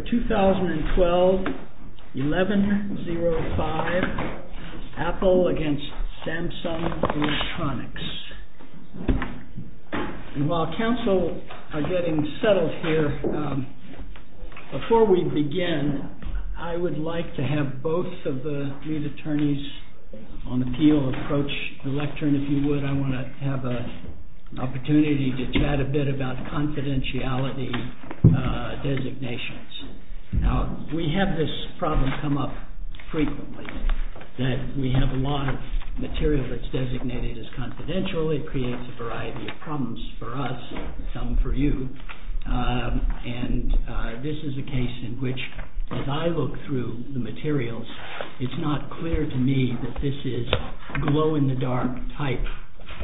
2012-11-05 APPLE v. SAMSUNG ELECTRONICS We have this problem come up frequently, that we have a lot of material that's designated as confidential. It creates a variety of problems for us, some for you. And this is a case in which, as I look through the materials, it's not clear to me that this is glow-in-the-dark type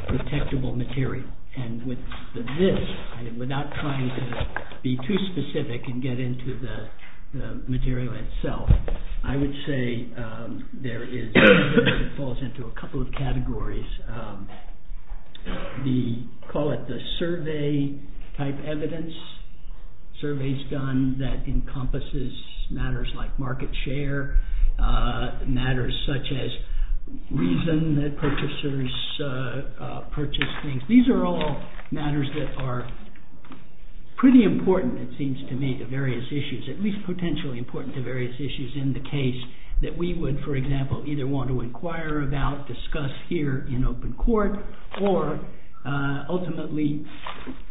protectable material. And with this, without trying to be too specific and get into the material itself, I would say it falls into a couple of categories. We call it the survey-type evidence, surveys done that encompasses matters like market share, matters such as reason that purchasers purchase things. These are all matters that are pretty important, it seems to me, to various issues, at least potentially important to various issues in the case, that we would, for example, either want to inquire about, discuss here in open court, or ultimately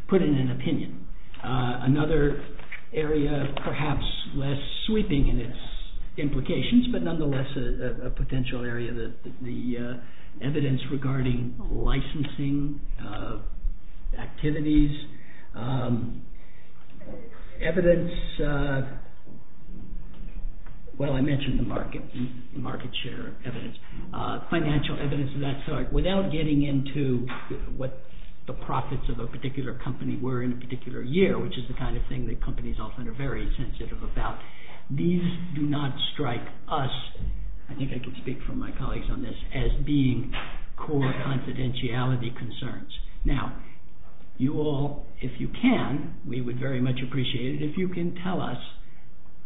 put in an opinion. Another area, perhaps less sweeping in its implications, but nonetheless a potential area, the evidence regarding licensing activities, evidence, well I mentioned the market share evidence, financial evidence of that sort, without getting into what the profits of a particular company were in a particular year, which is the kind of thing that companies often are very sensitive about, these do not strike us, I think I can speak for my colleagues on this, as being core confidentiality concerns. Now, you all, if you can, we would very much appreciate it if you can tell us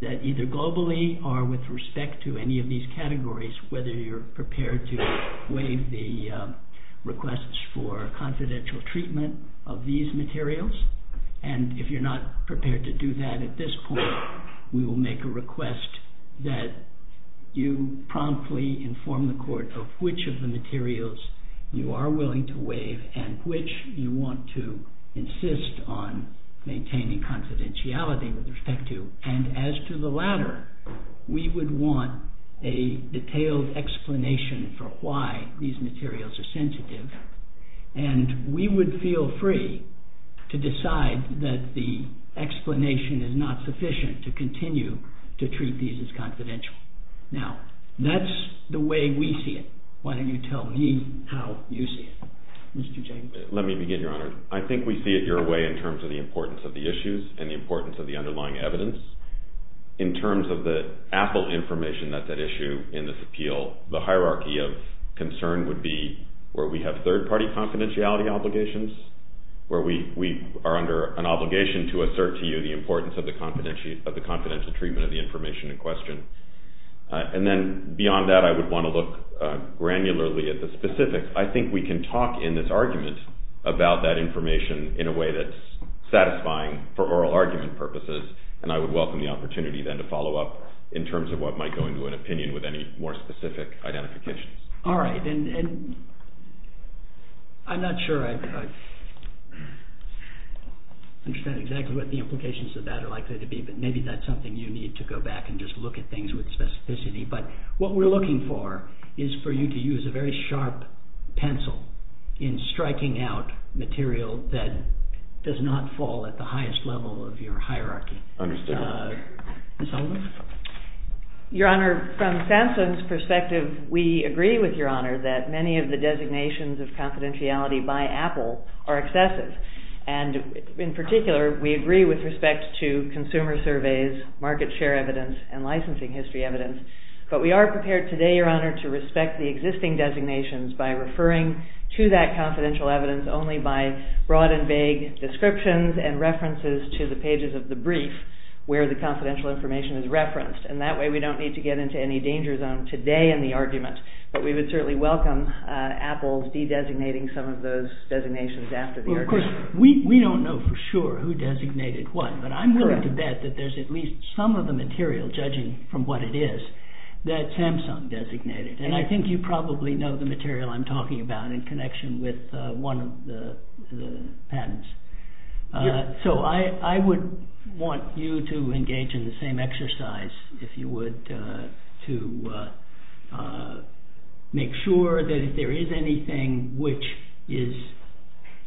that either globally or with respect to any of these categories, whether you're prepared to waive the requests for confidential treatment of these materials, and if you're not prepared to do that at this point, we will make a request that you promptly inform the court of which of the materials you are willing to waive and which you want to insist on maintaining confidentiality with respect to. And as to the latter, we would want a detailed explanation for why these materials are sensitive, and we would feel free to decide that the explanation is not sufficient to continue to treat these as confidential. Now, that's the way we see it. Why don't you tell me how you see it. Let me begin, Your Honor. I think we see it your way in terms of the importance of the issues and the importance of the underlying evidence. In terms of the AFL information that's at issue in this appeal, the hierarchy of concern would be where we have third-party confidentiality obligations, where we are under an obligation to assert to you the importance of the confidential treatment of the information in question. And then beyond that, I would want to look granularly at the specifics. I think we can talk in this argument about that information in a way that's satisfying for oral argument purposes, and I would welcome the opportunity then to follow up in terms of what might go into an opinion with any more specific identifications. All right. I'm not sure I understand exactly what the implications of that are likely to be, but maybe that's something you need to go back and just look at things with specificity. But what we're looking for is for you to use a very sharp pencil in striking out material that does not fall at the highest level of your hierarchy. Understood. Ms. Sullivan? Your Honor, from SAMHSA's perspective, we agree with Your Honor that many of the designations of confidentiality by Apple are excessive. And in particular, we agree with respect to consumer surveys, market share evidence, and licensing history evidence. But we are prepared today, Your Honor, to respect the existing designations by referring to that confidential evidence only by broad and vague descriptions and references to the pages of the brief where the confidential information is referenced. And that way we don't need to get into any danger zone today in the argument. But we would certainly welcome Apple's de-designating some of those designations after the argument. Well, of course, we don't know for sure who designated what, but I'm willing to bet that there's at least some of the material, judging from what it is, that Samsung designated. And I think you probably know the material I'm talking about in connection with one of the patents. So I would want you to engage in the same exercise, if you would, to make sure that if there is anything which is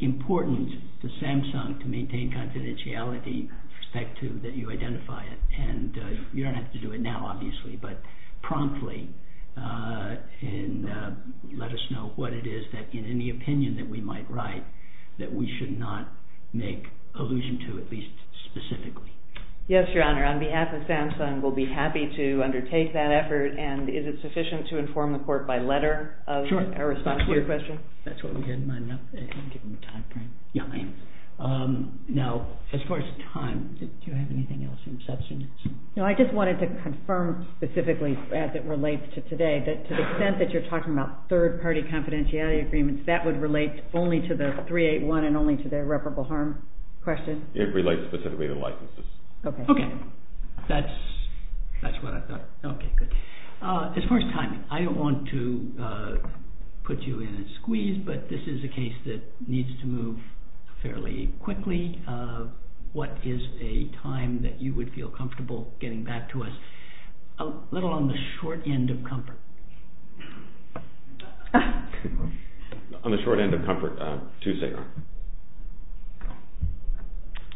important to Samsung to maintain confidentiality, respect to that you identify it. And you don't have to do it now, obviously, but promptly. And let us know what it is that, in any opinion that we might write, that we should not make allusion to, at least specifically. Yes, Your Honor. On behalf of Samsung, we'll be happy to undertake that effort. And is it sufficient to inform the Court by letter of our response to your question? Sure. That's what we had in mind. Now, as far as time, do you have anything else in substance? No, I just wanted to confirm specifically, as it relates to today, that to the extent that you're talking about third-party confidentiality agreements, that would relate only to the 381 and only to the irreparable harm question? It relates specifically to licenses. Okay. That's what I thought. Okay, good. As far as timing, I don't want to put you in a squeeze, but this is a case that needs to move fairly quickly. What is a time that you would feel comfortable getting back to us? A little on the short end of comfort. On the short end of comfort, Tuesday, Your Honor.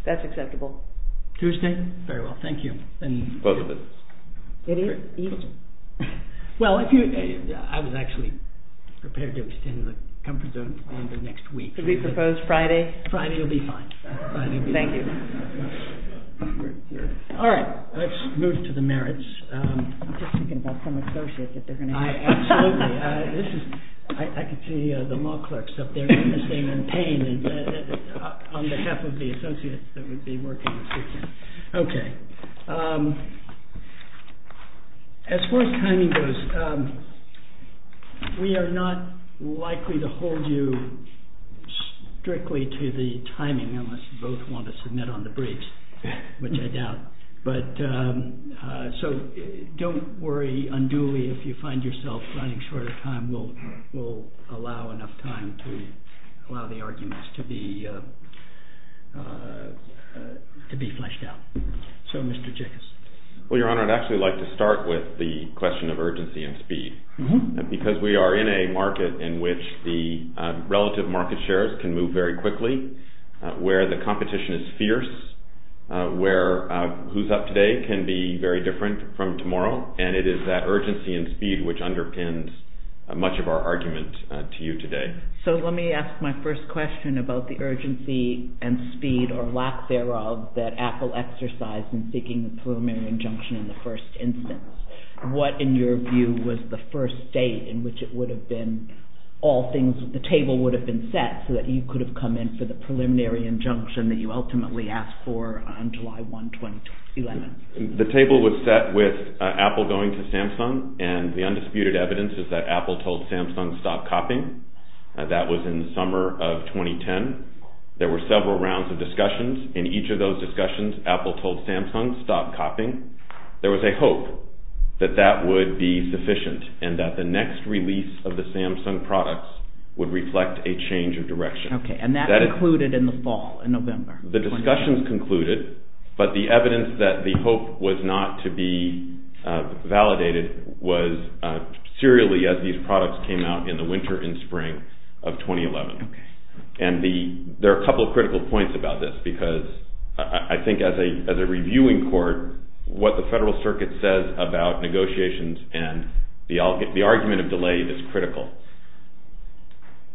That's acceptable. Tuesday? Very well. Thank you. Close the business. Well, I was actually prepared to extend the comfort zone until next week. Should we propose Friday? Friday will be fine. Thank you. All right. Let's move to the merits. I'm just thinking about some associates that they're going to have. Absolutely. I can see the law clerks up there in pain on behalf of the associates that would be working. Okay. As far as timing goes, we are not likely to hold you strictly to the timing, unless you both want to submit on the briefs, which I doubt. So don't worry unduly if you find yourself running short of time. We'll allow enough time to allow the arguments to be fleshed out. So, Mr. Chickas. Well, Your Honor, I'd actually like to start with the question of urgency and speed, because we are in a market in which the relative market shares can move very quickly, where the competition is fierce, where who's up today can be very different from tomorrow, and it is that urgency and speed which underpins much of our argument to you today. So let me ask my first question about the urgency and speed, or lack thereof, that Apple exercised in seeking the preliminary injunction in the first instance. What, in your view, was the first date in which it would have been all things, the table would have been set so that you could have come in for the preliminary injunction that you ultimately asked for on July 1, 2011? The table was set with Apple going to Samsung, and the undisputed evidence is that Apple told Samsung, stop copying. That was in the summer of 2010. There were several rounds of discussions. In each of those discussions, Apple told Samsung, stop copying. There was a hope that that would be sufficient and that the next release of the Samsung products would reflect a change of direction. Okay, and that concluded in the fall, in November. The discussions concluded, but the evidence that the hope was not to be validated was serially as these products came out in the winter and spring of 2011. And there are a couple of critical points about this because I think as a reviewing court, what the Federal Circuit says about negotiations and the argument of delay is critical.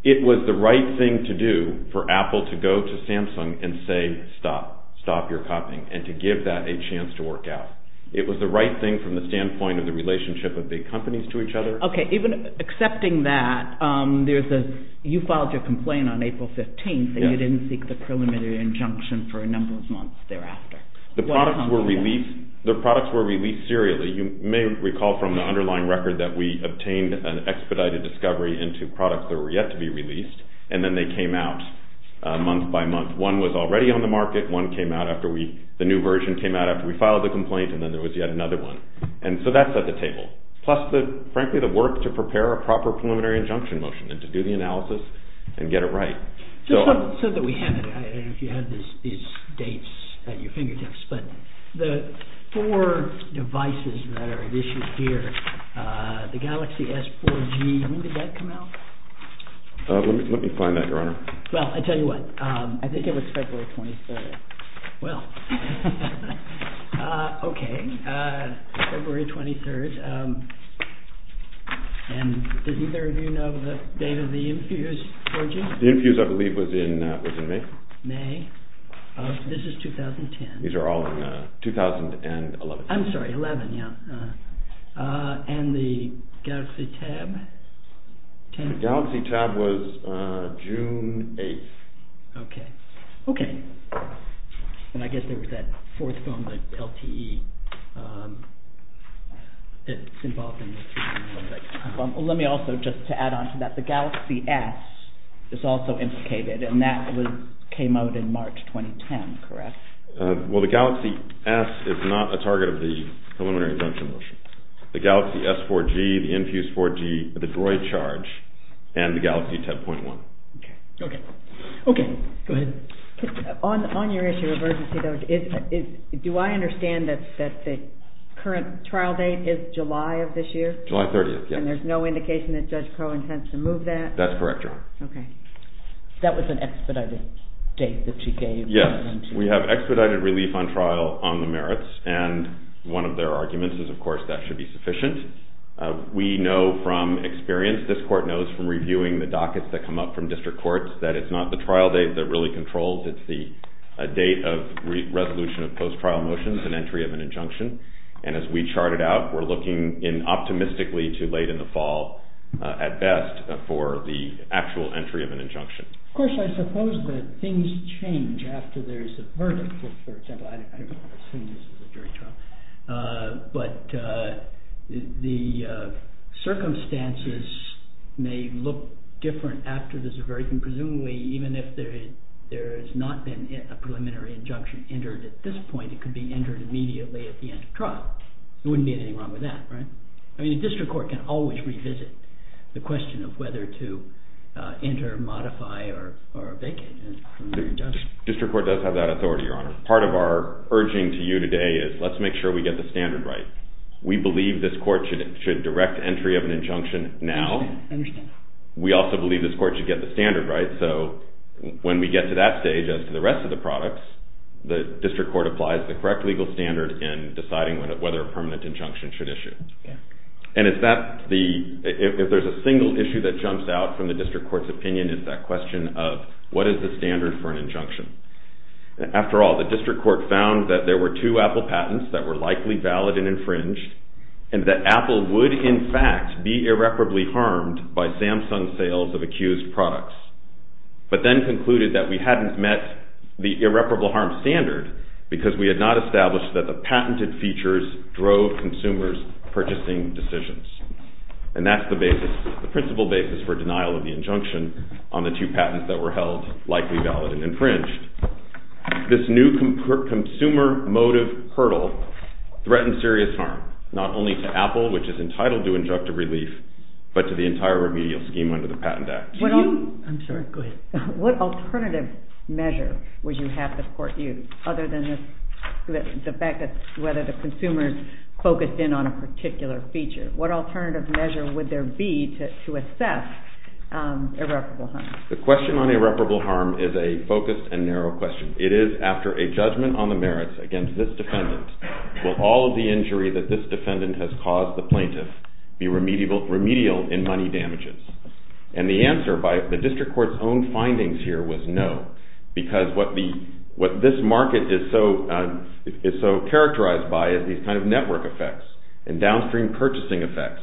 It was the right thing to do for Apple to go to Samsung and say, stop, stop your copying, and to give that a chance to work out. It was the right thing from the standpoint of the relationship of big companies to each other. Okay, even accepting that, you filed your complaint on April 15th and you didn't seek the preliminary injunction for a number of months thereafter. The products were released serially. You may recall from the underlying record that we obtained an expedited discovery into products that were yet to be released, and then they came out month by month. One was already on the market. The new version came out after we filed the complaint, and then there was yet another one. And so that's at the table. Plus, frankly, the work to prepare a proper preliminary injunction motion and to do the analysis and get it right. You said that we had these dates at your fingertips, but the four devices that are at issue here, the Galaxy S4G, when did that come out? Let me find that, Your Honor. Well, I'll tell you what. I think it was February 23rd. Well, okay, February 23rd. And did either of you know the date of the Infuse 4G? The Infuse, I believe, was in May. May. This is 2010. These are all in 2011. I'm sorry, 11, yeah. And the Galaxy Tab? The Galaxy Tab was June 8th. Okay. Okay. And I guess there was that fourth phone, the LTE. It's involved in the treatment and stuff like that. Let me also, just to add on to that, the Galaxy S is also implicated, and that came out in March 2010, correct? Well, the Galaxy S is not a target of the preliminary injunction motion. The Galaxy S4G, the Infuse 4G, the Droid Charge, and the Galaxy 10.1. Okay. Okay, go ahead. On your issue of urgency, though, do I understand that the current trial date is July of this year? July 30th, yes. And there's no indication that Judge Crowe intends to move that? That's correct, John. Okay. That was an expedited date that you gave. Yes, we have expedited relief on trial on the merits, and one of their arguments is, of course, that should be sufficient. We know from experience, this court knows from reviewing the dockets that come up from district courts, that it's not the trial date that really controls, it's the date of resolution of post-trial motions and entry of an injunction. And as we chart it out, we're looking optimistically to late in the fall at best for the actual entry of an injunction. Of course, I suppose that things change after there's a verdict. For example, I don't know if I've seen this at a jury trial, but the circumstances may look different after there's a verdict, and presumably even if there has not been a preliminary injunction entered at this point, it could be entered immediately at the end of trial. There wouldn't be anything wrong with that, right? I mean, the district court can always revisit the question of whether to enter, modify, or vacate an injunction. District court does have that authority, Your Honor. Part of our urging to you today is let's make sure we get the standard right. We believe this court should direct entry of an injunction now. I understand. We also believe this court should get the standard right, so when we get to that stage as to the rest of the products, the district court applies the correct legal standard in deciding whether a permanent injunction should issue. If there's a single issue that jumps out from the district court's opinion, it's that question of what is the standard for an injunction? After all, the district court found that there were two Apple patents that were likely valid and infringed, and that Apple would, in fact, be irreparably harmed by Samsung's sales of accused products, but then concluded that we hadn't met the irreparable harm standard because we had not established that the patented features drove consumers' purchasing decisions. And that's the principle basis for denial of the injunction on the two patents that were held likely valid and infringed. This new consumer motive hurdle threatens serious harm, not only to Apple, which is entitled to injunctive relief, but to the entire remedial scheme under the Patent Act. I'm sorry, go ahead. What alternative measure would you have the court use other than the fact that whether the consumers focused in on a particular feature? What alternative measure would there be to assess irreparable harm? The question on irreparable harm is a focused and narrow question. It is after a judgment on the merits against this defendant, will all of the injury that this defendant has caused the plaintiff be remedial in money damages? And the answer by the district court's own findings here was no, because what this market is so characterized by is these kind of network effects and downstream purchasing effects.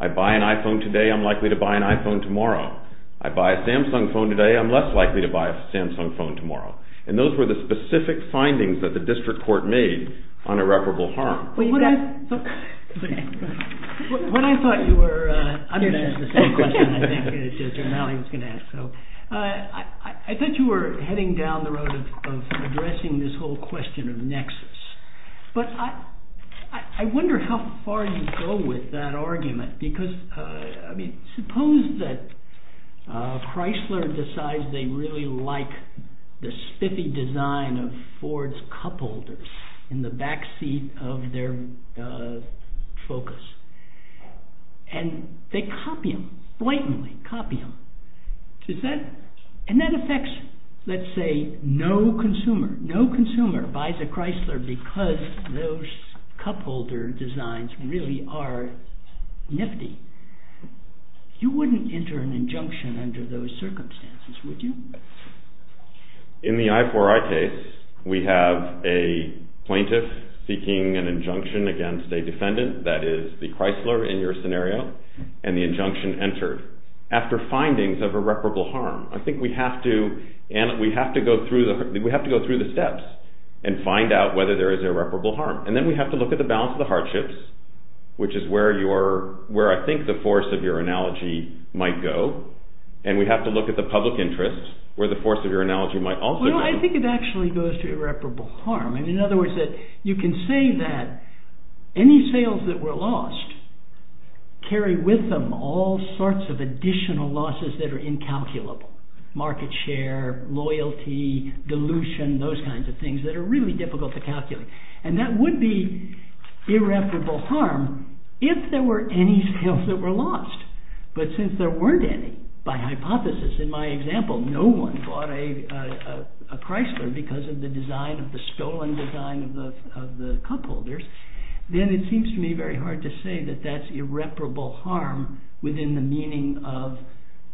I buy an iPhone today, I'm likely to buy an iPhone tomorrow. I buy a Samsung phone today, I'm less likely to buy a Samsung phone tomorrow. And those were the specific findings that the district court made on irreparable harm. When I thought you were... I'm going to ask the same question, I think. I thought you were heading down the road of addressing this whole question of nexus. But I wonder how far you go with that argument, because suppose that Chrysler decides they really like the spiffy design of Ford's cupholders in the backseat of their Focus. And they copy them, blatantly copy them. And that affects, let's say, no consumer. No consumer buys a Chrysler because those cupholder designs really are nifty. You wouldn't enter an injunction under those circumstances, would you? In the I4I case, we have a plaintiff seeking an injunction against a defendant, that is the Chrysler in your scenario, and the injunction entered. After findings of irreparable harm, I think we have to go through the steps and find out whether there is irreparable harm. And then we have to look at the balance of the hardships, which is where I think the force of your analogy might go. And we have to look at the public interest, where the force of your analogy might also go. Well, I think it actually goes to irreparable harm. In other words, you can say that any sales that were lost carry with them all sorts of additional losses that are incalculable. Market share, loyalty, dilution, those kinds of things that are really difficult to calculate. And that would be irreparable harm if there were any sales that were lost. But since there weren't any, by hypothesis, in my example, no one bought a Chrysler because of the design, of the stolen design of the cupholders, then it seems to me very hard to say that that's irreparable harm within the meaning of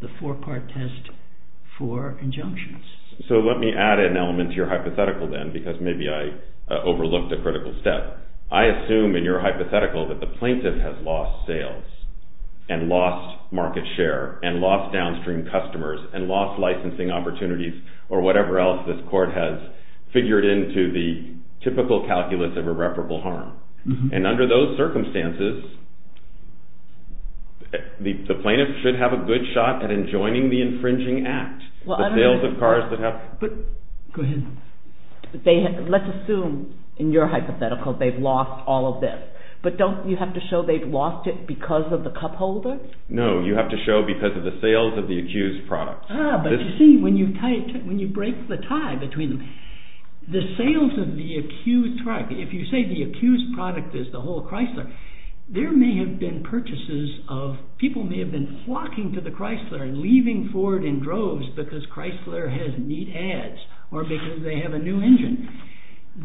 the four-part test for injunctions. So let me add an element to your hypothetical then, because maybe I overlooked a critical step. I assume in your hypothetical that the plaintiff has lost sales and lost market share and lost downstream customers and lost licensing opportunities or whatever else this court has figured into the typical calculus of irreparable harm. And under those circumstances, the plaintiff should have a good shot at enjoining the infringing act. The sales of cars that have... Go ahead. Let's assume in your hypothetical they've lost all of this. But don't you have to show they've lost it because of the cupholders? No, you have to show because of the sales of the accused products. Ah, but you see, when you break the tie between them, the sales of the accused product, if you say the accused product is the whole Chrysler, there may have been purchases of... People may have been flocking to the Chrysler and leaving Ford in droves because Chrysler has neat ads or because they have a new engine.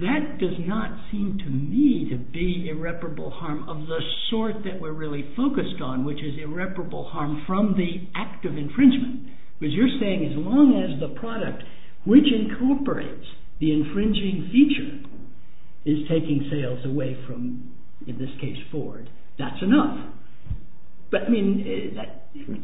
That does not seem to me to be irreparable harm of the sort that we're really focused on, which is irreparable harm from the act of infringement. Because you're saying as long as the product which incorporates the infringing feature is taking sales away from, in this case, Ford, that's enough. But I mean,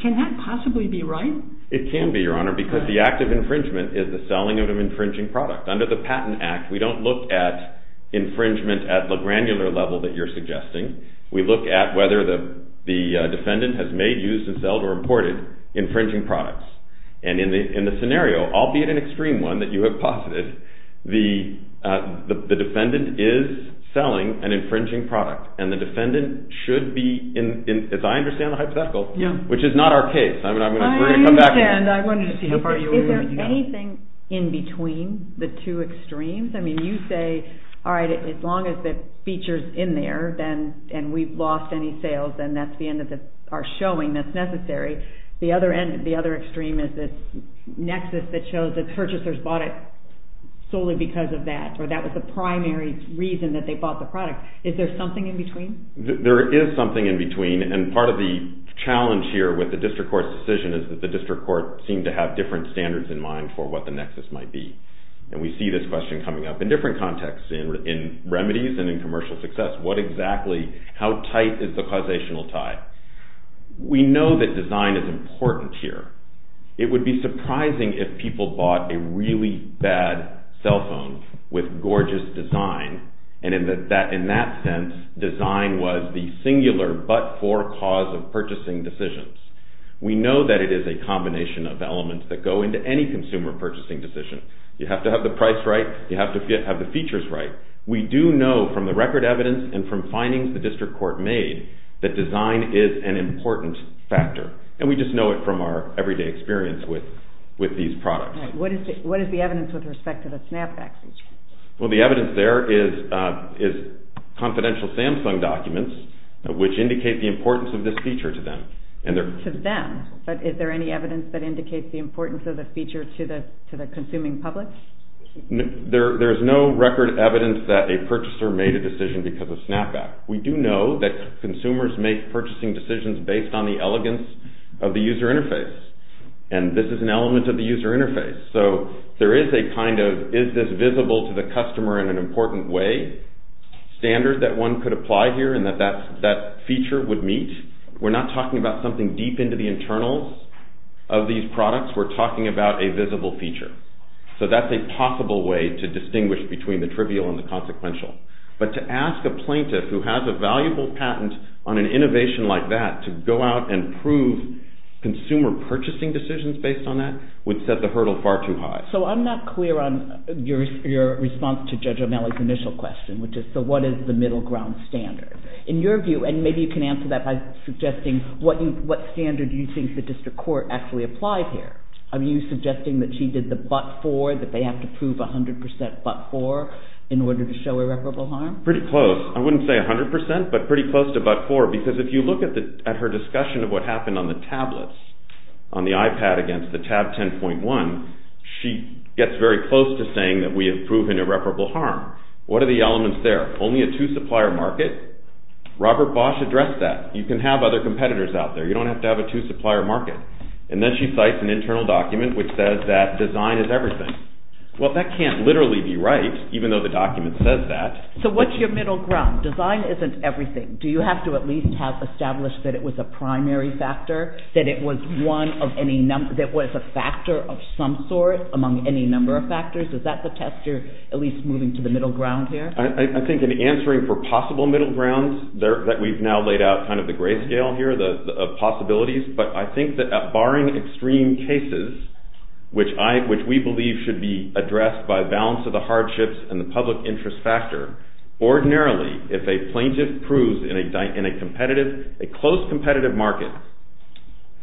can that possibly be right? It can be, Your Honor, because the act of infringement is the selling of an infringing product. Under the Patent Act, we don't look at infringement at the granular level that you're suggesting. We look at whether the defendant has made, used, and sold or imported infringing products. And in the scenario, albeit an extreme one that you have posited, the defendant is selling an infringing product. And the defendant should be, as I understand the hypothetical, which is not our case. I understand. I wanted to see how far you were going with that. Is there anything in between the two extremes? I mean, you say, all right, as long as the feature's in there and we've lost any sales, then that's the end of our showing that's necessary. The other extreme is this nexus that shows that purchasers bought it solely because of that or that was the primary reason that they bought the product. Is there something in between? There is something in between. And part of the challenge here with the district court's decision is that the district court seemed to have different standards in mind for what the nexus might be. And we see this question coming up in different contexts, in remedies and in commercial success. What exactly, how tight is the causational tie? We know that design is important here. It would be surprising if people bought a really bad cell phone with gorgeous design, and in that sense, design was the singular but for cause of purchasing decisions. We know that it is a combination of elements that go into any consumer purchasing decision. You have to have the price right. You have to have the features right. We do know from the record evidence and from findings the district court made that design is an important factor. And we just know it from our everyday experience with these products. What is the evidence with respect to the Snapback feature? Well, the evidence there is confidential Samsung documents which indicate the importance of this feature to them. To them? But is there any evidence that indicates the importance of the feature to the consuming public? There is no record evidence that a purchaser made a decision because of Snapback. We do know that consumers make purchasing decisions based on the elegance of the user interface. And this is an element of the user interface. So there is a kind of, is this visible to the customer in an important way, standard that one could apply here and that that feature would meet. We're not talking about something deep into the internals of these products. We're talking about a visible feature. So that's a possible way to distinguish between the trivial and the consequential. But to ask a plaintiff who has a valuable patent on an innovation like that to go out and prove consumer purchasing decisions based on that would set the hurdle far too high. So I'm not clear on your response to Judge O'Malley's initial question which is so what is the middle ground standard? In your view, and maybe you can answer that by suggesting what standard do you think the district court actually applied here? Are you suggesting that she did the but-for, that they have to prove 100% but-for in order to show irreparable harm? Pretty close. I wouldn't say 100%, but pretty close to but-for because if you look at her discussion of what happened on the tablets, on the iPad against the tab 10.1, she gets very close to saying that we have proven irreparable harm. What are the elements there? Only a two supplier market. Robert Bosch addressed that. You can have other competitors out there. You don't have to have a two supplier market. And then she cites an internal document which says that design is everything. Well, that can't literally be right even though the document says that. So what's your middle ground? Design isn't everything. Do you have to at least have established that it was a primary factor, that it was a factor of some sort among any number of factors? Is that the test you're at least moving to the middle ground here? I think in answering for possible middle grounds that we've now laid out kind of the gray scale here, the possibilities, but I think that barring extreme cases which we believe should be addressed by balance of the hardships and the public interest factor, ordinarily if a plaintiff proves in a competitive, a close competitive market,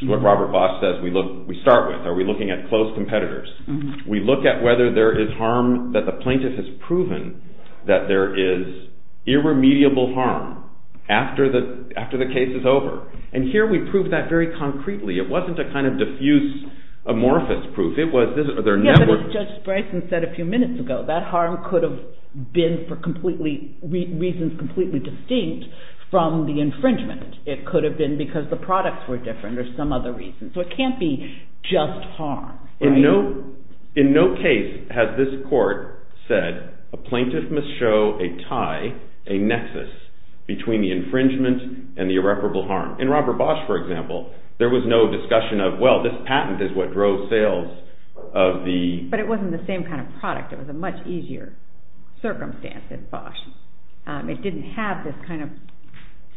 what Robert Bosch says, we start with, are we looking at close competitors? We look at whether there is harm that the plaintiff has proven that there is irremediable harm after the case is over. And here we prove that very concretely. It wasn't a kind of diffuse amorphous proof. It was their network. Yeah, but as Judge Bryson said a few minutes ago, that harm could have been for reasons completely distinct from the infringement. It could have been because the products were different or some other reason. So it can't be just harm. In no case has this court said that a plaintiff must show a tie, a nexus, between the infringement and the irreparable harm. In Robert Bosch, for example, there was no discussion of, well, this patent is what drove sales of the... But it wasn't the same kind of product. It was a much easier circumstance than Bosch. It didn't have this kind of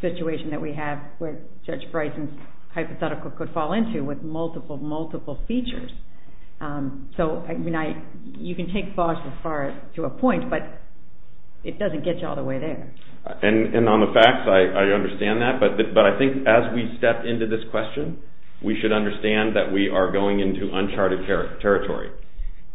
situation that we have where Judge Bryson's hypothetical could fall into with multiple, multiple features. So you can take Bosch to a point, but it doesn't get you all the way there. And on the facts, I understand that. But I think as we step into this question, we should understand that we are going into uncharted territory.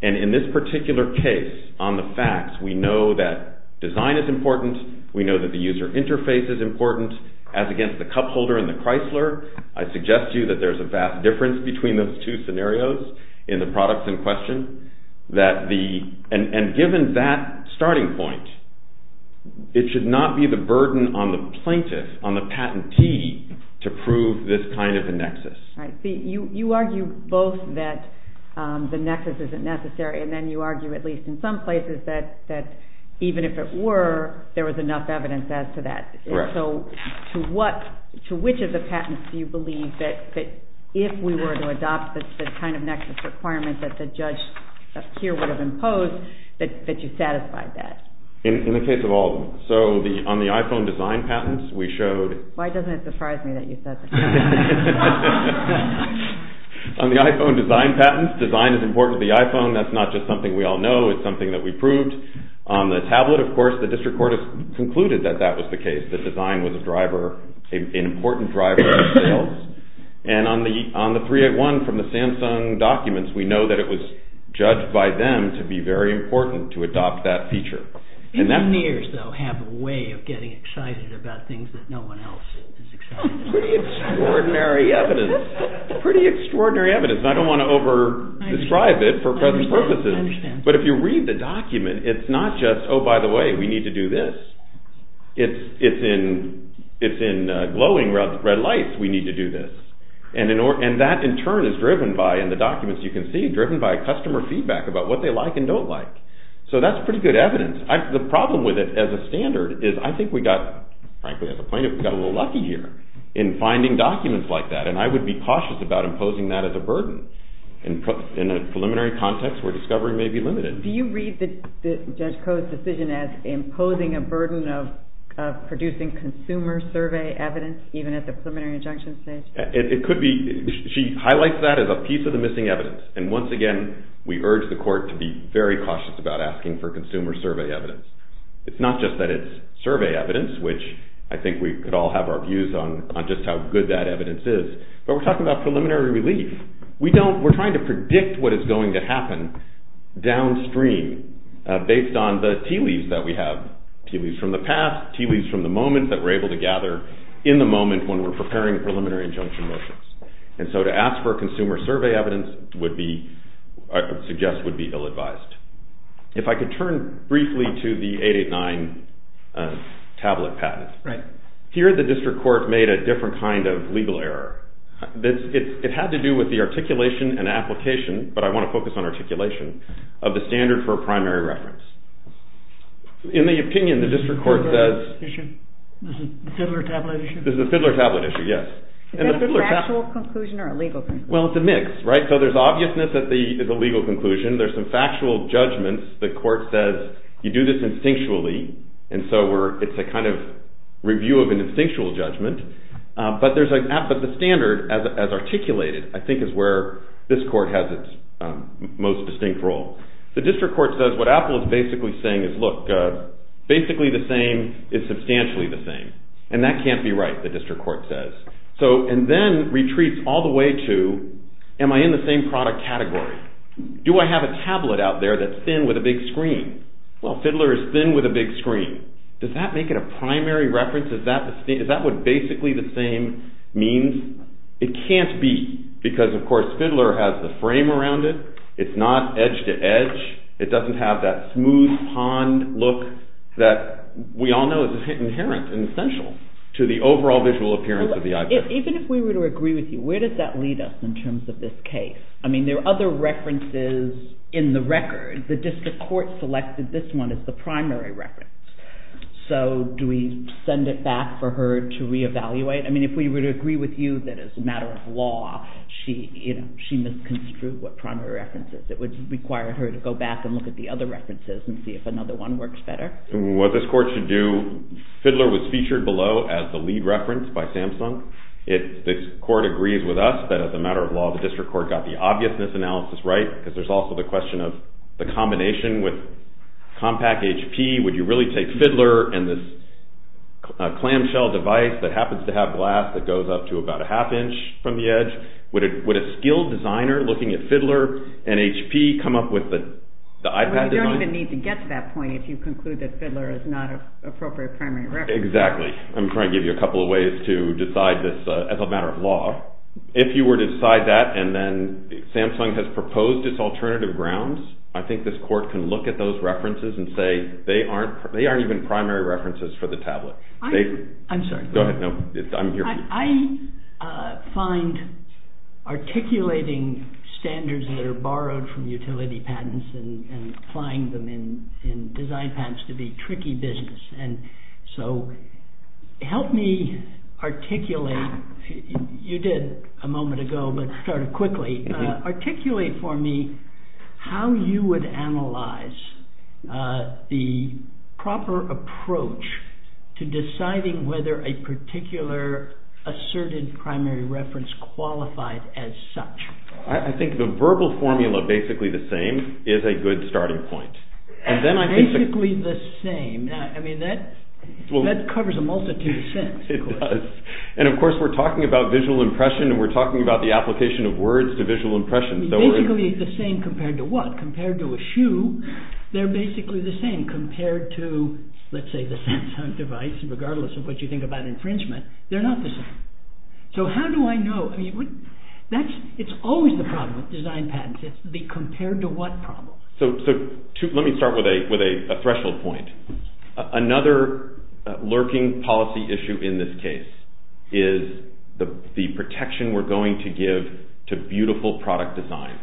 And in this particular case, on the facts, we know that design is important. We know that the user interface is important. As against the cup holder and the Chrysler, I suggest to you that there's a vast difference between those two scenarios in the product in question. And given that starting point, it should not be the burden on the plaintiff, on the patentee, to prove this kind of a nexus. You argue both that the nexus isn't necessary, and then you argue, at least in some places, that even if it were, there was enough evidence as to that. So to which of the patents do you believe that if we were to adopt this kind of nexus requirement that the judge up here would have imposed, that you satisfied that? In the case of all of them. So on the iPhone design patents, we showed... Why doesn't it surprise me that you said that? LAUGHTER On the iPhone design patents, design is important to the iPhone. That's not just something we all know. It's something that we proved. On the tablet, of course, the district court has concluded that that was the case, that design was an important driver of sales. And on the 381 from the Samsung documents, we know that it was judged by them to be very important to adopt that feature. Engineers, though, have a way of getting excited about things that no one else is excited about. Pretty extraordinary evidence. Pretty extraordinary evidence. I don't want to over-describe it for present purposes. I understand. But if you read the document, it's not just, oh, by the way, we need to do this. It's in glowing red lights, we need to do this. And that, in turn, is driven by, in the documents you can see, driven by customer feedback about what they like and don't like. So that's pretty good evidence. The problem with it as a standard is, I think we got, frankly, as a plaintiff, we got a little lucky here in finding documents like that. And I would be cautious about imposing that as a burden in a preliminary context where discovery may be limited. Do you read Judge Koh's decision as imposing a burden of producing consumer survey evidence even at the preliminary injunction stage? It could be. She highlights that as a piece of the missing evidence. And once again, we urge the court to be very cautious about asking for consumer survey evidence. It's not just that it's survey evidence, which I think we could all have our views on just how good that evidence is. But we're talking about preliminary relief. We don't, we're trying to predict what is going to happen downstream based on the tea leaves that we have, tea leaves from the past, tea leaves from the moment that we're able to gather in the moment when we're preparing preliminary injunction motions. And so to ask for consumer survey evidence would be, I would suggest, would be ill-advised. If I could turn briefly to the 889 tablet patent. Right. Here the district court made a different kind of legal error. It had to do with the articulation and application, but I want to focus on articulation, of the standard for primary reference. In the opinion, the district court says... This is the Fiddler tablet issue? This is the Fiddler tablet issue, yes. Is that a factual conclusion or a legal conclusion? Well, it's a mix, right? So there's obviousness that it's a legal conclusion. There's some factual judgments. The court says you do this instinctually. And so it's a kind of review of an instinctual judgment. But the standard as articulated, I think, is where this court has its most distinct role. The district court says what Apple is basically saying is, look, basically the same is substantially the same. And that can't be right, the district court says. And then retreats all the way to, am I in the same product category? Do I have a tablet out there that's thin with a big screen? Well, Fiddler is thin with a big screen. Does that make it a primary reference? Is that what basically the same means? It can't be because, of course, Fiddler has the frame around it. It's not edge-to-edge. It doesn't have that smooth pond look that we all know is inherent and essential to the overall visual appearance of the iPad. Even if we were to agree with you, where does that lead us in terms of this case? I mean, there are other references in the record. The district court selected this one as the primary reference. So do we send it back for her to reevaluate? I mean, if we were to agree with you that it's a matter of law, she must construe what primary reference is. It would require her to go back and look at the other references and see if another one works better. What this court should do, Fiddler was featured below as the lead reference by Samsung. This court agrees with us that, as a matter of law, the district court got the obviousness analysis right because there's also the question of the combination with Compaq HP. Would you really take Fiddler and this clamshell device that happens to have glass that goes up to about a half inch from the edge? Would a skilled designer looking at Fiddler and HP come up with the iPad design? You don't even need to get to that point if you conclude that Fiddler is not an appropriate primary reference. Exactly. I'm trying to give you a couple of ways to decide this as a matter of law. If you were to decide that, and then Samsung has proposed its alternative grounds, I think this court can look at those references and say they aren't even primary references for the tablet. I'm sorry. Go ahead. I'm here. I find articulating standards that are borrowed from utility patents and applying them in design patents to be tricky business. So help me articulate. You did a moment ago but started quickly. Articulate for me how you would analyze the proper approach to deciding whether a particular asserted primary reference qualifies as such. I think the verbal formula, basically the same, is a good starting point. Basically the same. That covers a multitude of senses. It does. And of course we're talking about visual impression and we're talking about the application of words to visual impression. Basically the same compared to what? They're basically the same compared to, let's say, the Samsung device, regardless of what you think about infringement. They're not the same. So how do I know? It's always the problem with design patents. It's the compared to what problem. Let me start with a threshold point. Another lurking policy issue in this case is the protection we're going to give to beautiful product designs.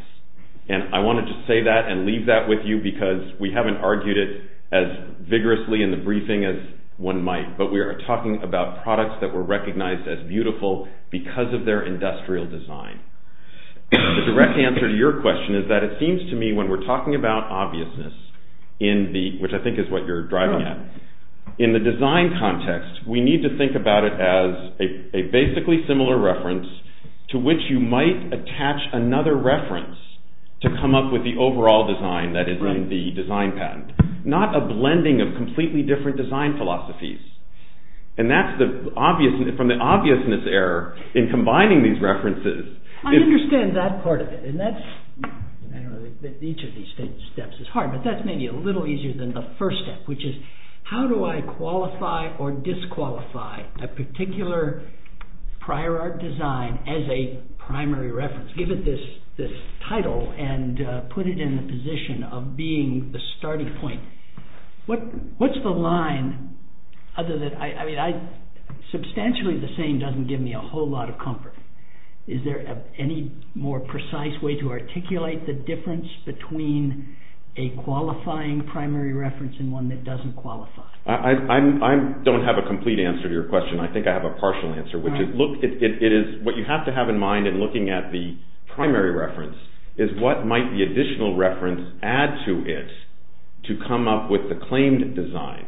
And I wanted to say that and leave that with you because we haven't argued it as vigorously in the briefing as one might. But we are talking about products that were recognized as beautiful because of their industrial design. The direct answer to your question is that it seems to me when we're talking about obviousness, which I think is what you're driving at, in the design context we need to think about it as a basically similar reference to which you might attach another reference to come up with the overall design that is in the design patent. Not a blending of completely different design philosophies. And that's from the obviousness error in combining these references. I understand that part of it. Each of these steps is hard, but that's maybe a little easier than the first step, which is how do I qualify or disqualify a particular prior art design as a primary reference? Give it this title and put it in the position of being the starting point. What's the line? Substantially the same doesn't give me a whole lot of comfort. Is there any more precise way to articulate the difference between a qualifying primary reference and one that doesn't qualify? I don't have a complete answer to your question. I think I have a partial answer. What you have to have in mind in looking at the primary reference is what might the additional reference add to it to come up with the claimed design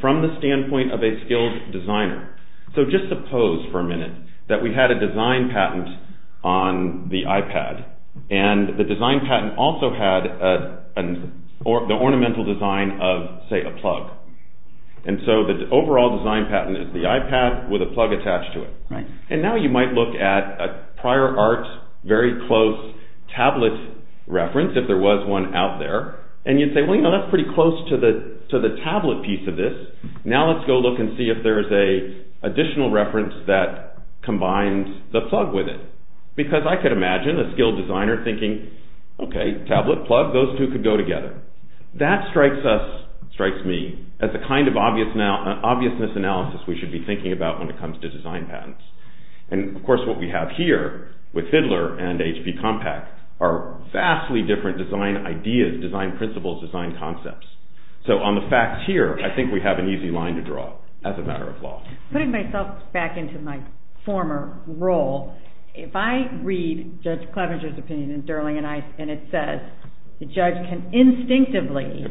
from the standpoint of a skilled designer. So just suppose for a minute that we had a design patent on the iPad, and the design patent also had the ornamental design of, say, a plug. So the overall design patent is the iPad with a plug attached to it. Now you might look at a prior art, very close tablet reference, if there was one out there, and you'd say, well, that's pretty close to the tablet piece of this. Now let's go look and see if there is an additional reference that combines the plug with it. Because I could imagine a skilled designer thinking, okay, tablet, plug, those two could go together. That strikes me as the kind of obviousness analysis we should be thinking about when it comes to design patents. And, of course, what we have here with Fiddler and HP Compact are vastly different design ideas, design principles, design concepts. So on the facts here, I think we have an easy line to draw as a matter of law. Putting myself back into my former role, if I read Judge Clevenger's opinion in Durling and Ice, and it says the judge can instinctively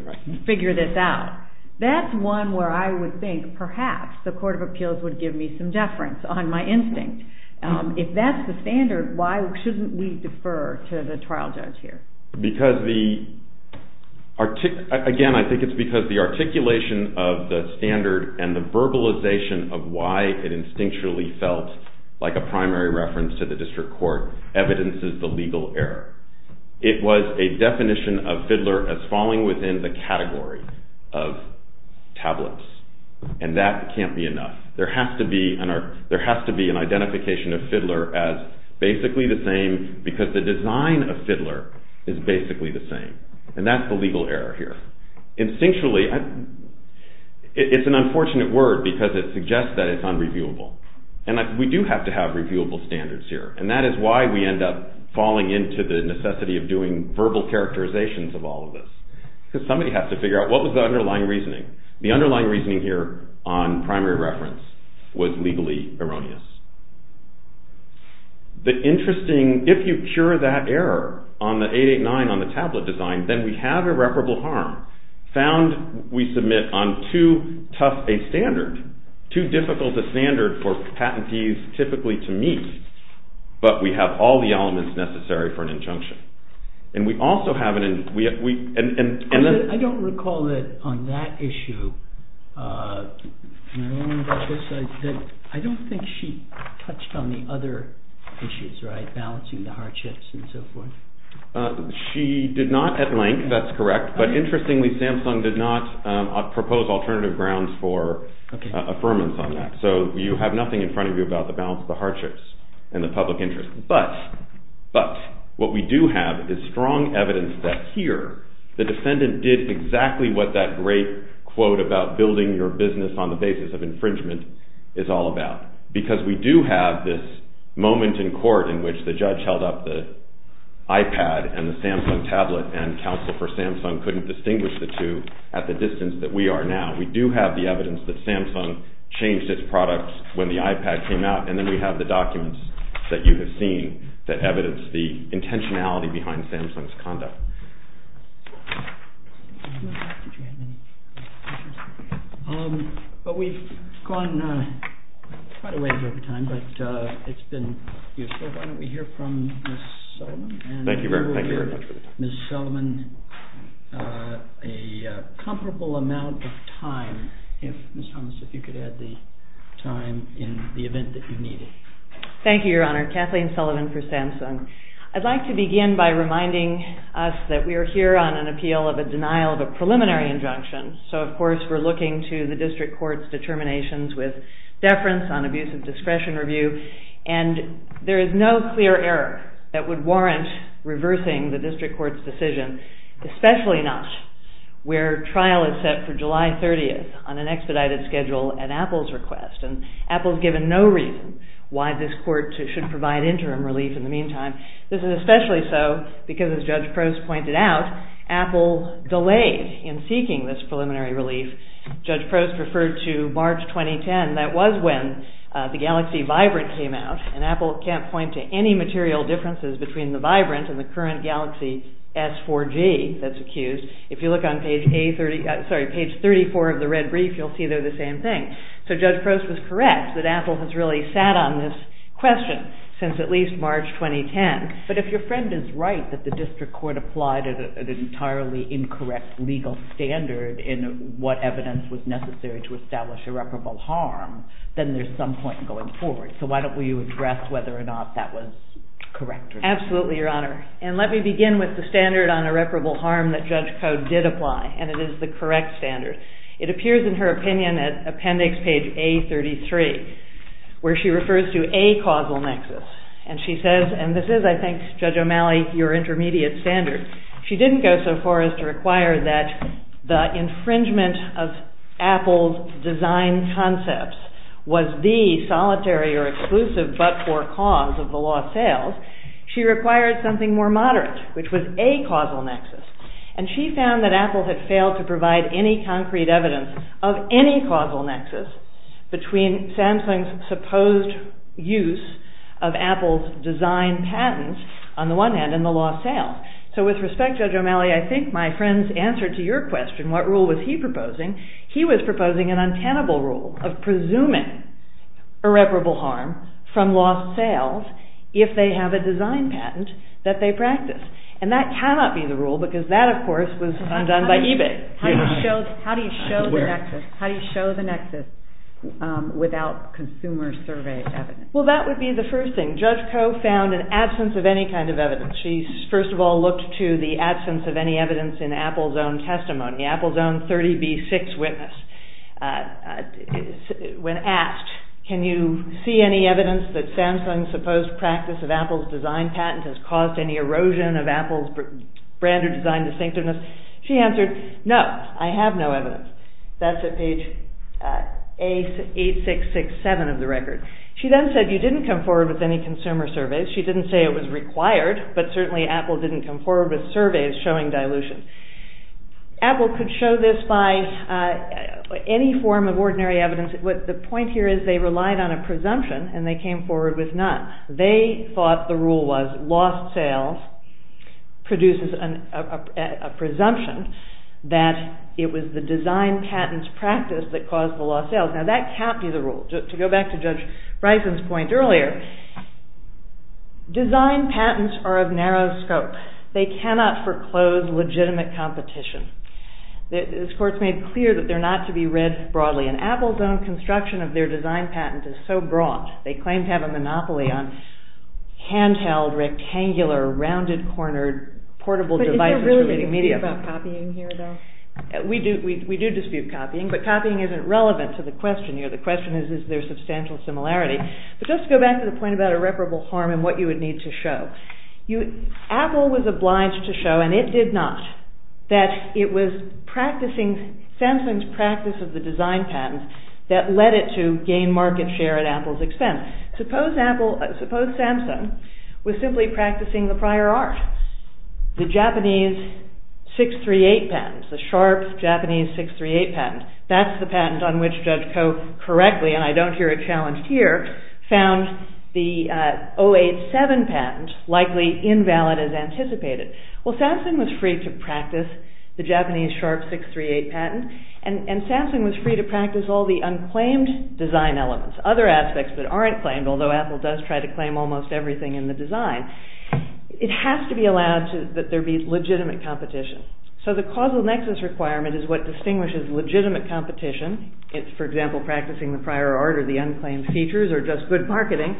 figure this out, that's one where I would think perhaps the Court of Appeals would give me some deference on my instinct. If that's the standard, why shouldn't we defer to the trial judge here? Again, I think it's because the articulation of the standard and the verbalization of why it instinctually felt like a primary reference to the district court evidences the legal error. It was a definition of Fiddler as falling within the category of tablets. And that can't be enough. There has to be an identification of Fiddler as basically the same because the design of Fiddler is basically the same. And that's the legal error here. Instinctually, it's an unfortunate word because it suggests that it's unreviewable. And we do have to have reviewable standards here. And that is why we end up falling into the necessity of doing verbal characterizations of all of this. Because somebody has to figure out what was the underlying reasoning. The underlying reasoning here on primary reference was legally erroneous. If you cure that error on the 889 on the tablet design, then we have irreparable harm. Found we submit on too tough a standard, too difficult a standard for patentees typically to meet, but we have all the elements necessary for an injunction. And we also have an injunction. I don't recall that on that issue, I don't think she touched on the other issues, right? Balancing the hardships and so forth. She did not at length, that's correct. But interestingly, Samsung did not propose alternative grounds for affirmance on that. So you have nothing in front of you about the balance of the hardships and the public interest. But what we do have is strong evidence that here the defendant did exactly what that great quote about building your business on the basis of infringement is all about. Because we do have this moment in court in which the judge held up the iPad and the Samsung tablet and counsel for Samsung couldn't distinguish the two at the distance that we are now. We do have the evidence that Samsung changed its products when the iPad came out and then we have the documents that you have seen that evidence the intentionality behind Samsung's conduct. But we've gone quite a ways over time, but it's been useful. Why don't we hear from Ms. Sullivan. Thank you very much. Ms. Sullivan, a comparable amount of time. Ms. Thomas, if you could add the time in the event that you need it. Thank you, Your Honor. Kathleen Sullivan for Samsung. I'd like to begin by reminding us that we are here on an appeal of a denial of a preliminary injunction. So, of course, we're looking to the district court's determinations with deference on abuse of discretion review. And there is no clear error that would warrant reversing the district court's decision, especially not where trial is set for July 30th on an expedited schedule at Apple's request. And Apple's given no reason why this court should provide interim relief in the meantime. This is especially so because, as Judge Prost pointed out, Apple delayed in seeking this preliminary relief. Judge Prost referred to March 2010. That was when the Galaxy Vibrant came out. And Apple can't point to any material differences between the Vibrant and the current Galaxy S4G that's accused. If you look on page 34 of the red brief, you'll see they're the same thing. So Judge Prost was correct that Apple has really sat on this question since at least March 2010. But if your friend is right that the district court applied at an entirely incorrect legal standard in what evidence was necessary to establish irreparable harm, then there's some point going forward. So why don't we address whether or not that was correct or not. Absolutely, Your Honor. And let me begin with the standard on irreparable harm that Judge Coe did apply, and it is the correct standard. It appears in her opinion at appendix page A33, where she refers to a causal nexus. And she says, and this is, I think, Judge O'Malley, your intermediate standard, she didn't go so far as to require that the infringement of Apple's design concepts was the solitary or exclusive but-for cause of the lost sales. She required something more moderate, which was a causal nexus. And she found that Apple had failed to provide any concrete evidence of any causal nexus between Samsung's supposed use of Apple's design patents, on the one hand, and the lost sales. So with respect, Judge O'Malley, I think my friend's answer to your question, what rule was he proposing, he was proposing an untenable rule of presuming irreparable harm from lost sales if they have a design patent that they practice. And that cannot be the rule because that, of course, was undone by eBay. How do you show the nexus without consumer survey evidence? Well, that would be the first thing. Judge Coe found an absence of any kind of evidence. She, first of all, looked to the absence of any evidence in Apple's own testimony, Apple's own 30B6 witness. When asked, can you see any evidence that Samsung's supposed practice of Apple's design patent has caused any erosion of Apple's brand or design distinctiveness, she answered, no, I have no evidence. That's at page 8667 of the record. She then said you didn't come forward with any consumer surveys. She didn't say it was required, but certainly Apple didn't come forward with surveys showing dilution. Apple could show this by any form of ordinary evidence. The point here is they relied on a presumption and they came forward with none. They thought the rule was lost sales produces a presumption that it was the design patent's practice that caused the lost sales. Now that can't be the rule. To go back to Judge Bryson's point earlier, design patents are of narrow scope. They cannot foreclose legitimate competition. This court's made clear that they're not to be read broadly, and Apple's own construction of their design patent is so broad. They claim to have a monopoly on hand-held, rectangular, rounded-cornered portable devices for reading media. But is there really a dispute about copying here, though? We do dispute copying, but copying isn't relevant to the question here. The question is, is there substantial similarity? But just to go back to the point about irreparable harm and what you would need to show, Apple was obliged to show, and it did not, that it was Samsung's practice of the design patent that led it to gain market share at Apple's expense. Suppose Samsung was simply practicing the prior art, the Japanese 638 patent, the sharp Japanese 638 patent. That's the patent on which Judge Koh, correctly, and I don't hear it challenged here, found the 087 patent likely invalid as anticipated. Well, Samsung was free to practice the Japanese sharp 638 patent, and Samsung was free to practice all the unclaimed design elements, other aspects that aren't claimed, although Apple does try to claim almost everything in the design. It has to be allowed that there be legitimate competition. So the causal nexus requirement is what distinguishes legitimate competition, it's, for example, practicing the prior art or the unclaimed features or just good marketing,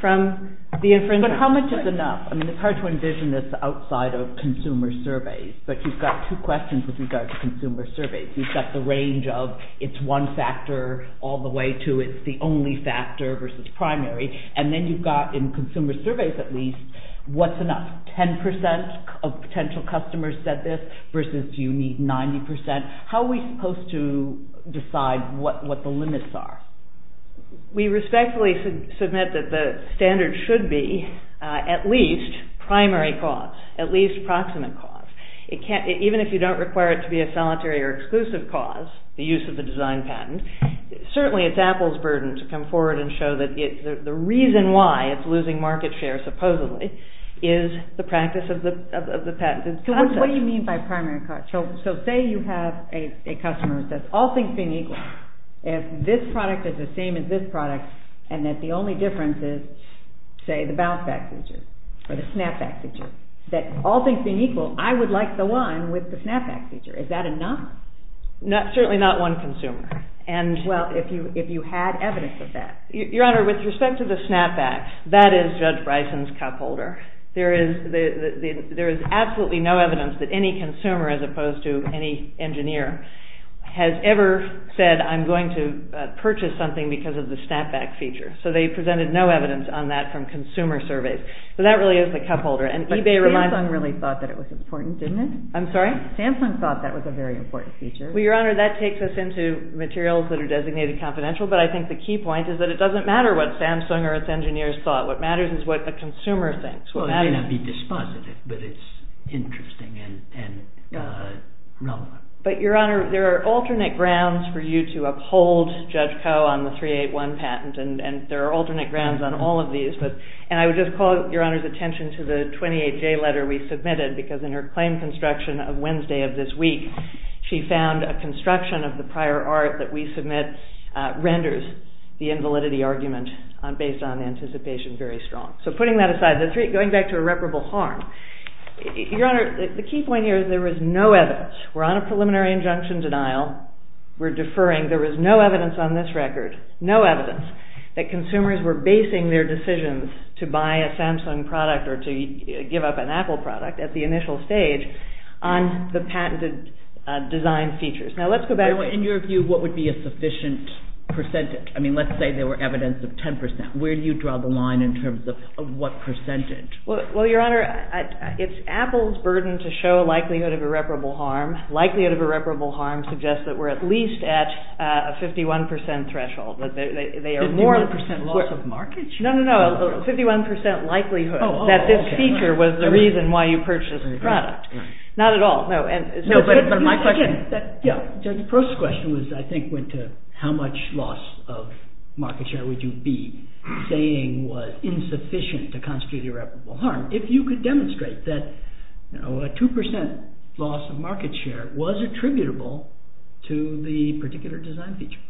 from the infringement. But how much is enough? I mean, it's hard to envision this outside of consumer surveys, but you've got two questions with regard to consumer surveys. You've got the range of, it's one factor all the way to, it's the only factor versus primary, and then you've got, in consumer surveys at least, what's enough? 10% of potential customers said this versus you need 90%. How are we supposed to decide what the limits are? We respectfully submit that the standard should be at least primary cause, at least proximate cause. Even if you don't require it to be a solitary or exclusive cause, the use of the design patent, certainly it's Apple's burden to come forward and show that the reason why it's losing market share, supposedly, is the practice of the patent. What do you mean by primary cause? So say you have a customer that all things being equal, if this product is the same as this product and that the only difference is, say, the bounce back feature or the snap back feature, that all things being equal, I would like the one with the snap back feature. Is that enough? Certainly not one consumer. Well, if you had evidence of that. Your Honor, with respect to the snap back, that is Judge Bryson's cupholder. There is absolutely no evidence that any consumer as opposed to any engineer has ever said I'm going to purchase something because of the snap back feature. So they presented no evidence on that from consumer surveys. So that really is the cupholder. But Samsung really thought that it was important, didn't it? I'm sorry? Samsung thought that was a very important feature. Well, Your Honor, that takes us into materials that are designated confidential, but I think the key point is that it doesn't matter what Samsung or its engineers thought. What matters is what the consumer thinks. Well, it may not be dispositive, but it's interesting and relevant. But, Your Honor, there are alternate grounds for you to uphold Judge Koh on the 381 patent, and there are alternate grounds on all of these. And I would just call Your Honor's attention to the 28J letter we submitted because in her claim construction of Wednesday of this week, she found a construction of the prior art that we submit renders the invalidity argument based on anticipation very strong. So putting that aside, going back to irreparable harm, Your Honor, the key point here is there is no evidence. We're on a preliminary injunction denial. We're deferring. There is no evidence on this record, no evidence, that consumers were basing their decisions to buy a Samsung product or to give up an Apple product at the initial stage on the patented design features. Now, let's go back. In your view, what would be a sufficient percentage? I mean, let's say there were evidence of 10%. Where do you draw the line in terms of what percentage? Well, Your Honor, it's Apple's burden to show likelihood of irreparable harm. Likelihood of irreparable harm suggests that we're at least at a 51% threshold. 51% loss of market share? No, no, no. 51% likelihood that this feature was the reason why you purchased this product. Not at all. No, but my question is that… The first question I think went to how much loss of market share would you be saying was insufficient to constitute irreparable harm if you could demonstrate that a 2% loss of market share was attributable to the particular design feature.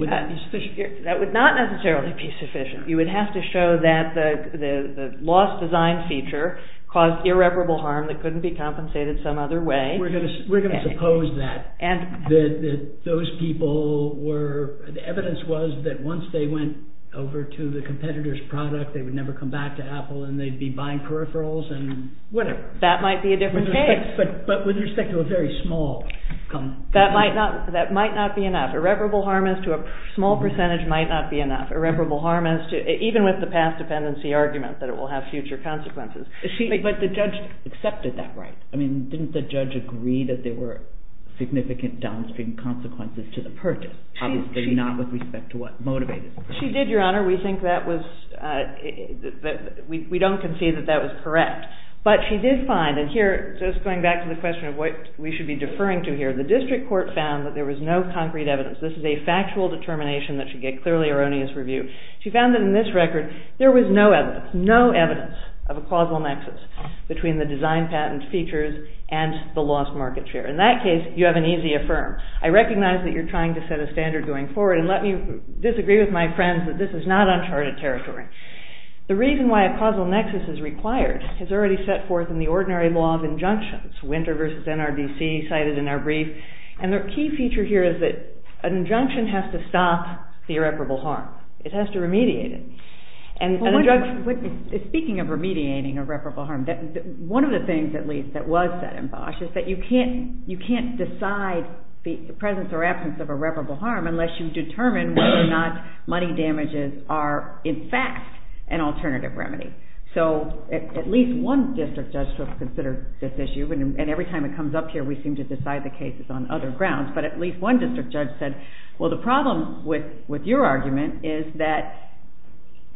Would that be sufficient? That would not necessarily be sufficient. You would have to show that the lost design feature caused irreparable harm that couldn't be compensated some other way. We're going to suppose that. That those people were… The evidence was that once they went over to the competitor's product, they would never come back to Apple and they'd be buying peripherals and whatever. That might be a different case. But with respect to a very small… That might not be enough. Irreparable harm as to a small percentage might not be enough. Irreparable harm as to even with the past dependency argument that it will have future consequences. But the judge accepted that, right? Didn't the judge agree that there were significant downstream consequences to the purchase? Obviously not with respect to what motivated it. She did, Your Honor. We think that was… We don't concede that that was correct. But she did find, and here just going back to the question of what we should be deferring to here, the district court found that there was no concrete evidence. This is a factual determination that should get clearly erroneous review. She found that in this record, there was no evidence, no evidence of a causal nexus between the design patent features and the lost market share. In that case, you have an easy affirm. I recognize that you're trying to set a standard going forward and let me disagree with my friends that this is not uncharted territory. The reason why a causal nexus is required is already set forth in the ordinary law of injunctions. Winter versus NRDC cited in our brief. And the key feature here is that an injunction has to stop the irreparable harm. It has to remediate it. Speaking of remediating irreparable harm, one of the things at least that was set in Bosch is that you can't decide the presence or absence of irreparable harm unless you determine whether or not money damages are in fact an alternative remedy. At least one district judge considered this issue and every time it comes up here, we seem to decide the cases on other grounds. But at least one district judge said, the problem with your argument is that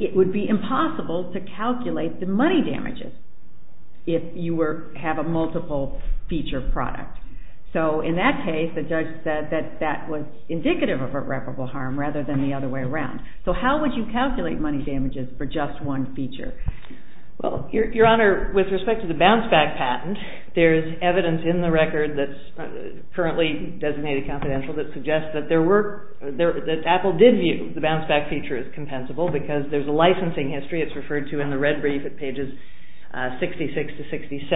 it would be impossible to calculate the money damages if you have a multiple feature product. In that case, the judge said that that was indicative of irreparable harm rather than the other way around. So how would you calculate money damages for just one feature? Your Honor, with respect to the bounce back patent, there's evidence in the record that's currently designated confidential that suggests that Apple did view the bounce back feature as compensable because there's a licensing history. It's referred to in the red brief at pages 66 to 67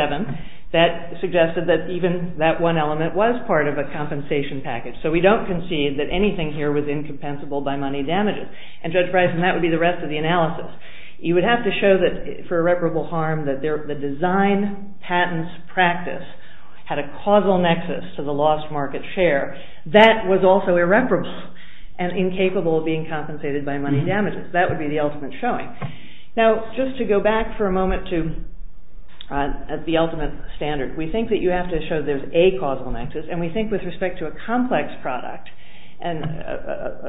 that suggested that even that one element was part of a compensation package. So we don't concede that anything here was incompensable by money damages. And Judge Bryson, that would be the rest of the analysis. You would have to show that for irreparable harm, that the design, patents, practice had a causal nexus to the lost market share that was also irreparable and incapable of being compensated by money damages. That would be the ultimate showing. Now, just to go back for a moment to the ultimate standard, we think that you have to show there's a causal nexus and we think with respect to a complex product. A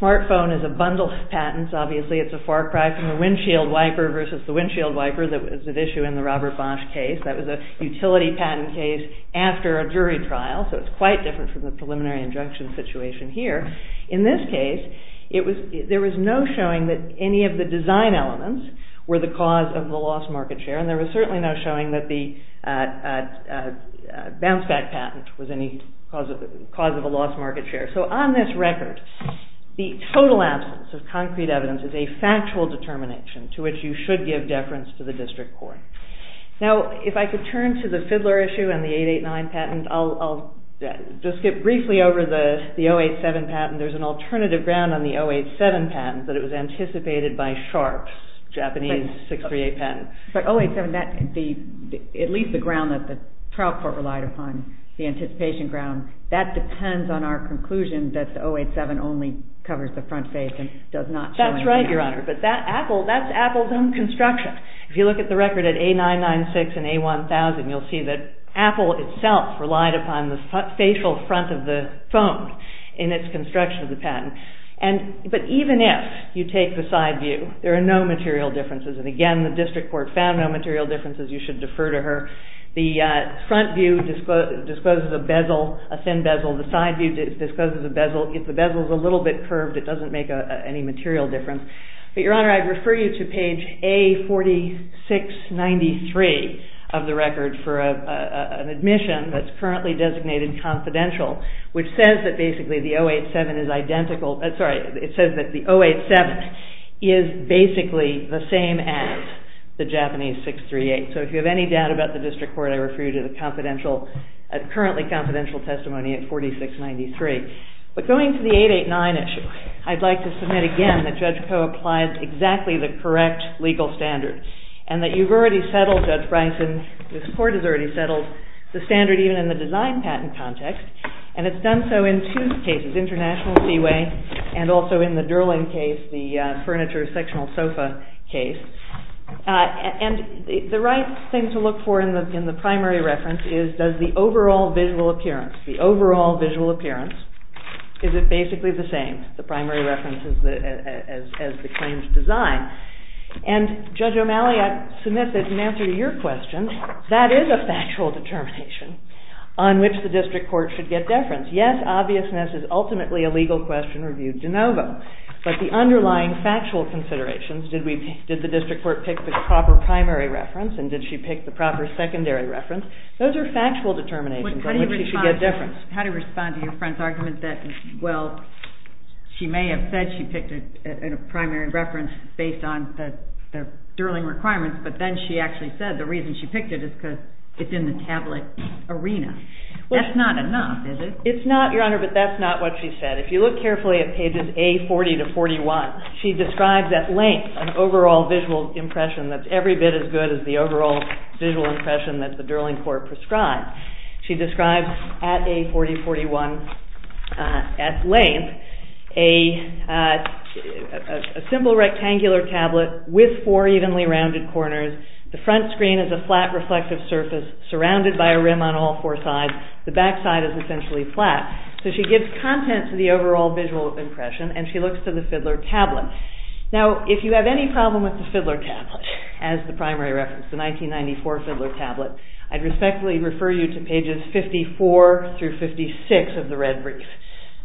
smartphone is a bundle of patents. Obviously, it's a far cry from a windshield wiper versus the windshield wiper that was at issue in the Robert Bosch case. That was a utility patent case after a jury trial, so it's quite different from the preliminary injunction situation here. In this case, there was no showing that any of the design elements were the cause of the lost market share and there was certainly no showing that the bounce-back patent was any cause of a lost market share. So on this record, the total absence of concrete evidence is a factual determination to which you should give deference to the district court. Now, if I could turn to the Fiddler issue and the 889 patent, I'll just skip briefly over the 087 patent. There's an alternative ground on the 087 patent that it was anticipated by Sharpe's Japanese 638 patent. But 087, at least the ground that the trial court relied upon, the anticipation ground, that depends on our conclusion that the 087 only covers the front face and does not show anything. That's right, Your Honor, but that's Apple's own construction. If you look at the record at A996 and A1000, you'll see that Apple itself relied upon the facial front of the phone in its construction of the patent. But even if you take the side view, there are no material differences, and again, the district court found no material differences. You should defer to her. The front view discloses a bezel, a thin bezel. The side view discloses a bezel. If the bezel is a little bit curved, it doesn't make any material difference. But, Your Honor, I'd refer you to page A4693 of the record for an admission that's currently designated confidential, which says that basically the 087 is identical. Sorry, it says that the 087 is basically the same as the Japanese 638. So if you have any doubt about the district court, I refer you to the currently confidential testimony at 4693. But going to the 889 issue, I'd like to submit again that Judge Koh applied exactly the correct legal standards and that you've already settled, Judge Bryson, this court has already settled the standard even in the design patent context and it's done so in two cases, International Seaway and also in the Durland case, the furniture sectional sofa case. And the right thing to look for in the primary reference is does the overall visual appearance, the overall visual appearance, is it basically the same? The primary reference is the claims design. And Judge O'Malley, I submit that in answer to your question, that is a factual determination on which the district court should get deference. Yes, obviousness is ultimately a legal question reviewed de novo. But the underlying factual considerations, did the district court pick the proper primary reference and did she pick the proper secondary reference, those are factual determinations on which she should get deference. How do you respond to your friend's argument that, well, she may have said she picked a primary reference based on the Durland requirements, but then she actually said the reason she picked it is because it's in the tablet arena. That's not enough, is it? It's not, Your Honor, but that's not what she said. If you look carefully at pages A40 to 41, she describes at length an overall visual impression that's every bit as good as the overall visual impression that the Durland court prescribed. She describes at A40-41, at length, a simple rectangular tablet with four evenly rounded corners. The front screen is a flat reflective surface surrounded by a rim on all four sides. The back side is essentially flat. So she gives content to the overall visual impression and she looks to the Fidler tablet. Now, if you have any problem with the Fidler tablet as the primary reference, the 1994 Fidler tablet, I'd respectfully refer you to pages 54 through 56 of the red brief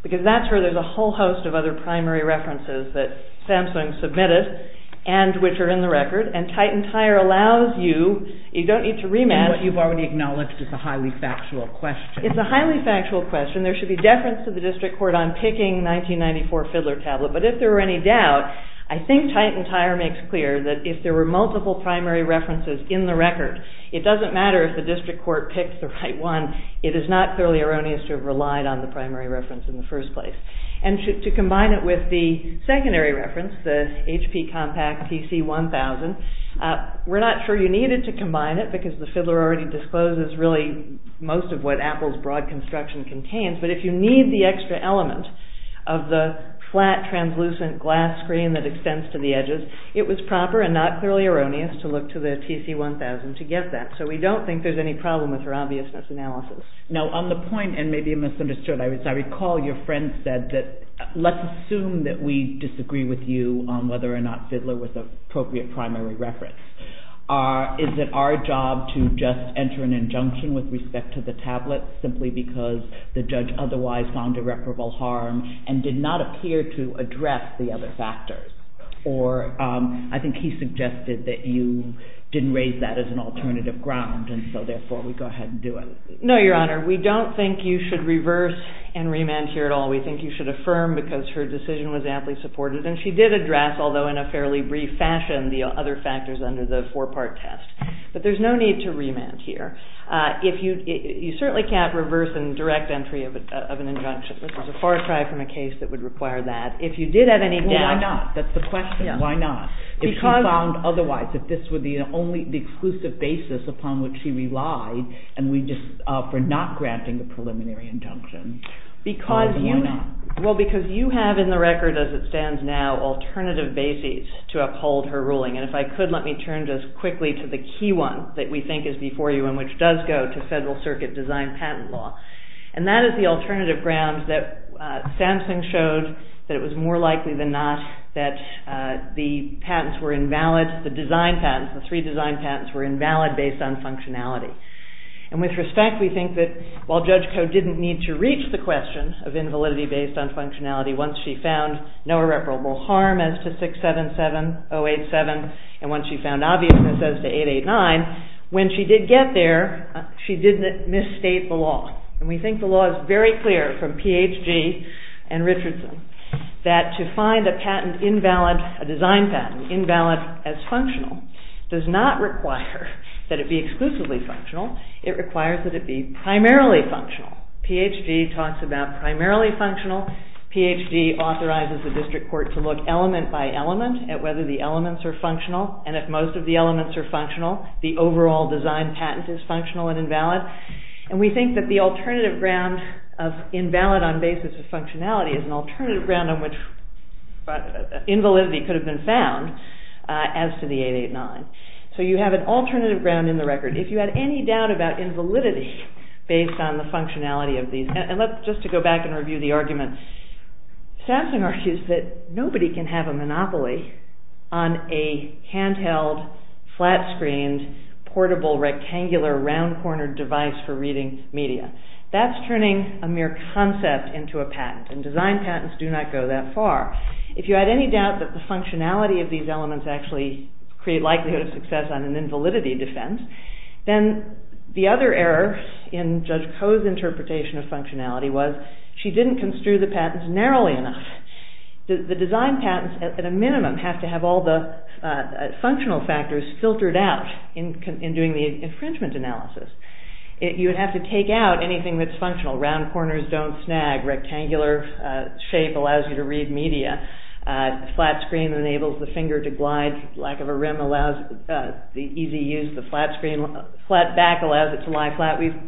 because that's where there's a whole host of other primary references that Samsung submitted and which are in the record, and Titantire allows you, you don't need to rematch... What you've already acknowledged is a highly factual question. It's a highly factual question. There should be deference to the district court on picking 1994 Fidler tablet, but if there were any doubt, I think Titantire makes clear that if there were multiple primary references in the record, it doesn't matter if the district court picked the right one. It is not thoroughly erroneous to have relied on the primary reference in the first place. And to combine it with the secondary reference, the HP Compact TC1000, we're not sure you needed to combine it because the Fidler already discloses really most of what Apple's broad construction contains, but if you need the extra element of the flat translucent glass screen that extends to the edges, it was proper and not thoroughly erroneous to look to the TC1000 to get that. So we don't think there's any problem with her obviousness analysis. Now on the point, and maybe I misunderstood, I recall your friend said that let's assume that we disagree with you on whether or not Fidler was an appropriate primary reference. Is it our job to just enter an injunction with respect to the tablet simply because the judge otherwise found irreparable harm and did not appear to address the other factors? Or I think he suggested that you didn't raise that as an alternative ground, and so therefore we go ahead and do it. No, Your Honor. We don't think you should reverse and remand here at all. We think you should affirm because her decision was aptly supported, and she did address, although in a fairly brief fashion, the other factors under the four-part test. But there's no need to remand here. You certainly can't reverse and direct entry of an injunction. This is a far cry from a case that would require that. If you did have any doubt... Well, why not? That's the question. Why not? If she found otherwise, if this were the exclusive basis upon which she relied for not granting the preliminary injunction, why do you not? Well, because you have in the record as it stands now alternative bases to uphold her ruling. And if I could, let me turn just quickly to the key one that we think is before you and which does go to federal circuit design patent law. And that is the alternative ground that Samson showed that it was more likely than not that the design patents, the three design patents, were invalid based on functionality. And with respect, we think that while Judge Koh didn't need to reach the question of invalidity based on functionality once she found no irreparable harm as to 677-087 and once she found obviousness as to 889, when she did get there, she didn't misstate the law. And we think the law is very clear from Ph.D. and Richardson that to find a design patent invalid as functional does not require that it be exclusively functional. It requires that it be primarily functional. Ph.D. talks about primarily functional. Ph.D. authorizes the district court to look element by element at whether the elements are functional. And if most of the elements are functional, the overall design patent is functional and invalid. And we think that the alternative ground of invalid on basis of functionality is an alternative ground on which invalidity could have been found as to the 889. So you have an alternative ground in the record. If you had any doubt about invalidity based on the functionality of these... And just to go back and review the argument, Sasson argues that nobody can have a monopoly on a handheld, flat-screened, portable, rectangular, round-cornered device for reading media. That's turning a mere concept into a patent. And design patents do not go that far. If you had any doubt that the functionality of these elements actually create likelihood of success on an invalidity defense, then the other error in Judge Koh's interpretation of functionality was she didn't construe the patents narrowly enough. The design patents, at a minimum, have to have all the functional factors filtered out in doing the infringement analysis. You would have to take out anything that's functional. Round corners don't snag. Rectangular shape allows you to read media. Flat screen enables the finger to glide. Lack of a rim allows the easy use of the flat screen. Flat back allows it to lie flat. We've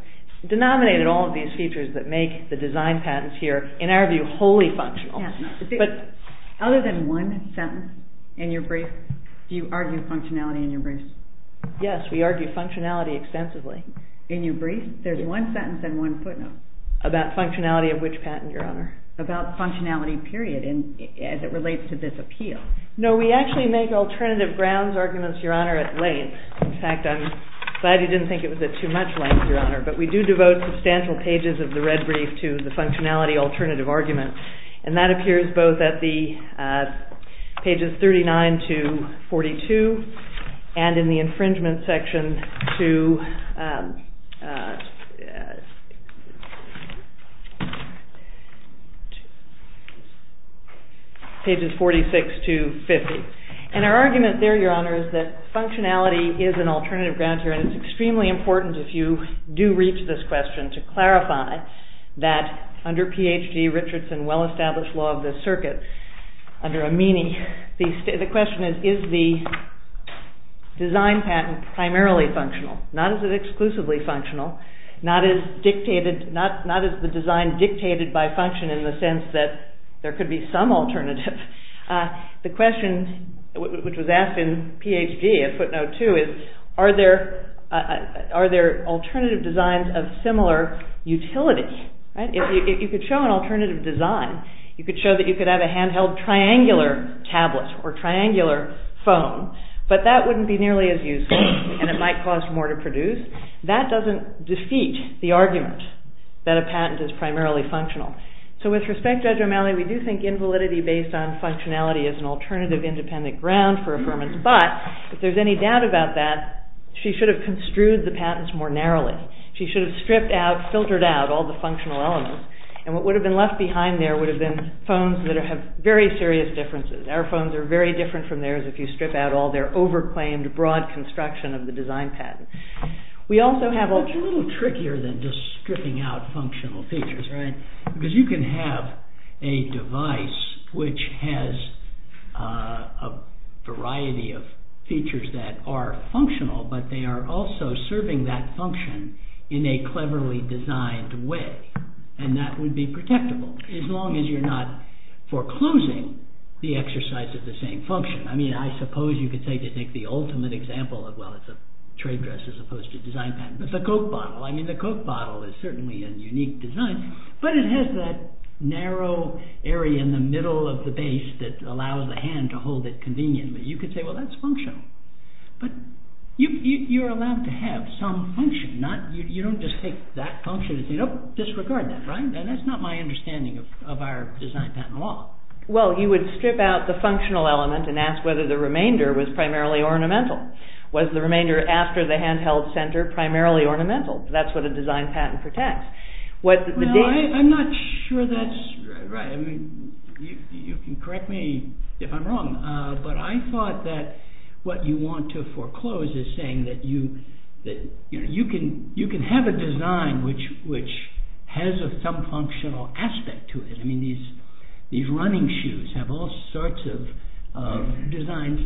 denominated all of these features that make the design patents here, in our view, wholly functional. Other than one sentence in your brief, do you argue functionality in your brief? Yes, we argue functionality extensively. In your brief? There's one sentence and one footnote. About functionality of which patent, Your Honor? About functionality, period, as it relates to this appeal. No, we actually make alternative grounds arguments, Your Honor, at length. In fact, I'm glad you didn't think it was at too much length, Your Honor. But we do devote substantial pages of the red brief to the functionality alternative argument. And that appears both at the pages 39 to 42 and in the infringement section to pages 46 to 50. And our argument there, Your Honor, is that functionality is an alternative ground here. And it's extremely important, if you do reach this question, to clarify that under Ph.D. Richardson, well-established law of the circuit, under Amini, the question is, is the design patent primarily functional? Not is it exclusively functional. Not is the design dictated by function in the sense that there could be some alternative. The question which was asked in Ph.D., a footnote too, is are there alternative designs of similar utilities? If you could show an alternative design, you could show that you could have a hand-held triangular tablet or triangular phone, but that wouldn't be nearly as useful and it might cost more to produce. That doesn't defeat the argument that a patent is primarily functional. So with respect, Judge O'Malley, we do think invalidity based on functionality is an alternative independent ground for affirmance. But if there's any doubt about that, she should have construed the patents more narrowly. She should have stripped out, filtered out, all the functional elements. And what would have been left behind there would have been phones that have very serious differences. Our phones are very different from theirs if you strip out all their over-claimed, broad construction of the design patent. We also have... It's a little trickier than just stripping out functional features, right? Because you can have a device which has a variety of features that are functional, but they are also serving that function in a cleverly designed way. And that would be protectable, as long as you're not foreclosing the exercise of the same function. I mean, I suppose you could say to take the ultimate example of, well, it's a trade dress as opposed to a design patent. It's a Coke bottle. I mean, the Coke bottle is certainly a unique design, but it has that narrow area in the middle of the base that allows the hand to hold it conveniently. You could say, well, that's functional. But you're allowed to have some function. You don't just take that function and say, nope, disregard that, right? And that's not my understanding of our design patent law. Well, you would strip out the functional element and ask whether the remainder was primarily ornamental. Was the remainder after the hand-held center primarily ornamental? That's what a design patent protects. Well, I'm not sure that's right. I mean, you can correct me if I'm wrong, but I thought that what you want to foreclose is saying that you can have a design which has some functional aspect to it. I mean, these running shoes have all sorts of designs,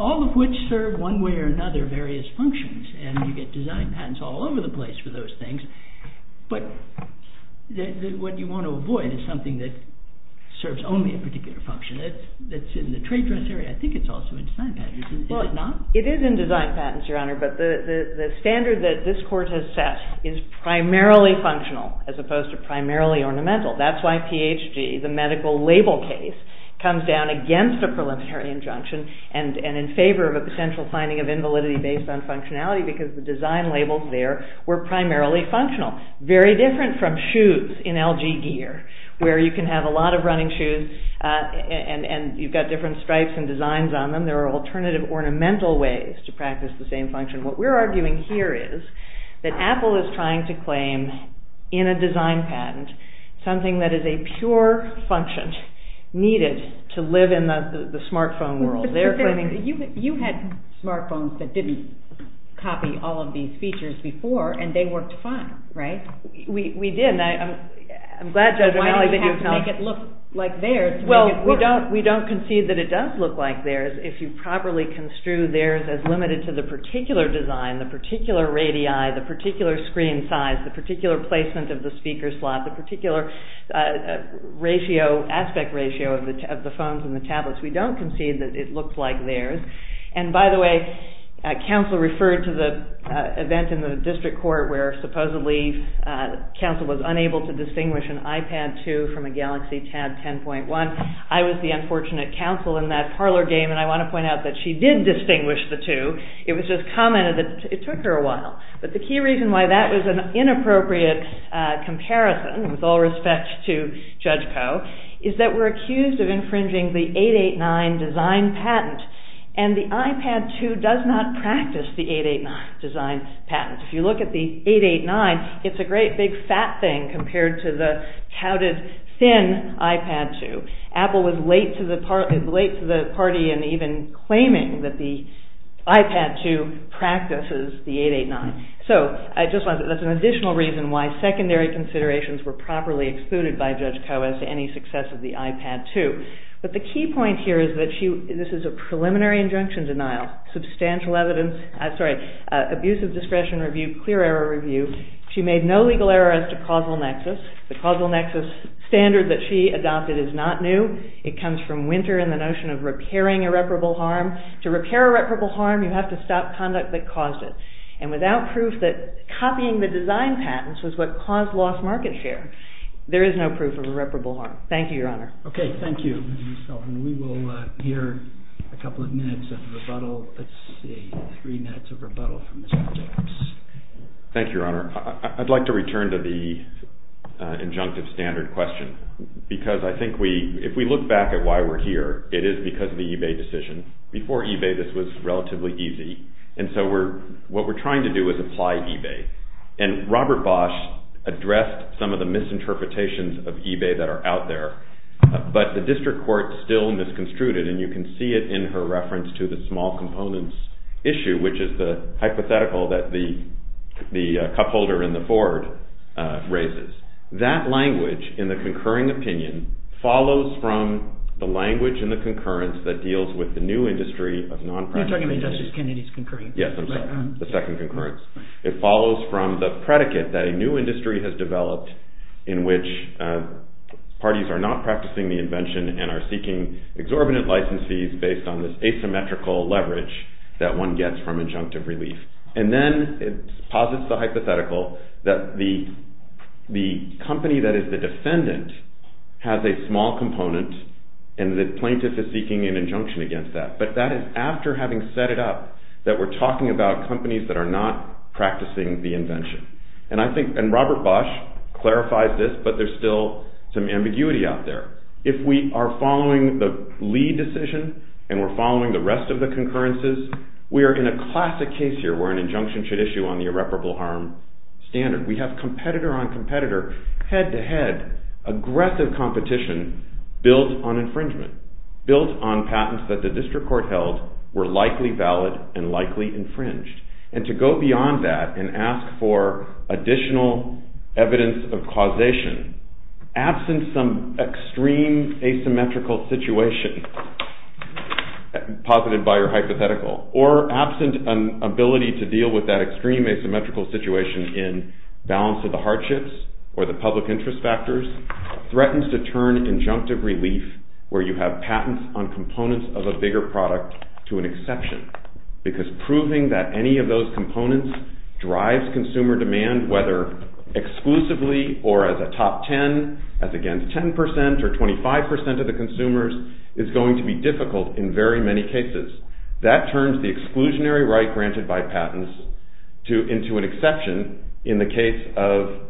all of which serve one way or another various functions. And you get design patents all over the place for those things. But what you want to avoid is something that serves only a particular function. That's in the trade dress area. I think it's also in design patents. Is it not? It is in design patents, Your Honor, but the standard that this court has set is primarily functional as opposed to primarily ornamental. That's why PHG, the medical label case, comes down against a preliminary injunction and in favor of a potential finding of invalidity based on functionality, because the design labels there were primarily functional. Very different from shoes in LG gear, where you can have a lot of running shoes and you've got different stripes and designs on them. There are alternative ornamental ways to practice the same function. What we're arguing here is that Apple is trying to claim, in a design patent, something that is a pure function needed to live in the smartphone world. You had smartphones that didn't copy all of these features before, and they worked fine, right? I'm glad Judge O'Malley didn't tell us. Why did you have to make it look like theirs to make it work? Well, we don't concede that it does look like theirs if you properly construe theirs as limited to the particular design, the particular radii, the particular screen size, the particular placement of the speaker slot, the particular aspect ratio of the phones and the tablets. We don't concede that it looked like theirs. And by the way, counsel referred to the event in the district court where, supposedly, counsel was unable to distinguish an iPad 2 from a Galaxy Tab 10.1. I was the unfortunate counsel in that parlor game and I want to point out that she did distinguish the two. It was just commented that it took her a while. But the key reason why that was an inappropriate comparison, with all respect to Judge Poe, is that we're accused of infringing the 889 design patent. And the iPad 2 does not practice the 889 design patent. If you look at the 889, it's a great big fat thing compared to the touted thin iPad 2. Apple was late to the party in even claiming that the iPad 2 practices the 889. So I just want to say that's an additional reason why secondary considerations were properly excluded by Judge Poe as to any success of the iPad 2. But the key point here is that this is a preliminary injunction denial, abusive discretion review, clear error review. She made no legal error as to causal nexus. The causal nexus standard that she adopted is not new. It comes from Winter and the notion of repairing irreparable harm. To repair irreparable harm, you have to stop conduct that caused it. And without proof that copying the design patents was what caused lost market share, there is no proof of irreparable harm. Thank you, Your Honor. OK, thank you. And we will hear a couple of minutes of rebuttal. Let's see. Three minutes of rebuttal from Mr. Jacobs. Thank you, Your Honor. I'd like to return to the injunctive standard question because I think if we look back at why we're here, it is because of the eBay decision. Before eBay, this was relatively easy. And so what we're trying to do is apply eBay. And Robert Bosch addressed some of the misinterpretations of eBay that are out there. But the district court still misconstrued it. And you can see it in her reference to the small components issue, which is the hypothetical that the cup holder in the board raises. That language in the concurring opinion follows from the language in the concurrence that deals with the new industry of nonpractical inventors. You're talking about Justice Kennedy's concurrence. Yes, I'm sorry. The second concurrence. It follows from the predicate that a new industry has developed in which parties are not practicing the invention and are seeking exorbitant licensees based on this asymmetrical leverage that one gets from injunctive relief. And then it posits the hypothetical that the company that is the defendant has a small component and the plaintiff is seeking an injunction against that. But that is after having set it up that we're talking about companies that are not practicing the invention. And Robert Bosch clarifies this, but there's still some ambiguity out there. If we are following the Lee decision and we're following the rest of the concurrences, we are in a classic case here where an injunction should We have competitor-on-competitor, head-to-head, aggressive competition built on infringement, built on patents that the district court held were likely valid and likely infringed. And to go beyond that and ask for additional evidence of causation, absent some extreme asymmetrical situation, posited by your hypothetical, or absent an ability to deal with that extreme asymmetrical situation in balance of the hardships or the public interest factors, threatens to turn injunctive relief where you have patents on components of a bigger product to an exception. Because proving that any of those components drives consumer demand, whether exclusively or as a top 10, as against 10% or 25% of the consumers, is going to be difficult in very many cases. That turns the exclusionary right granted by patents into an exception in the case of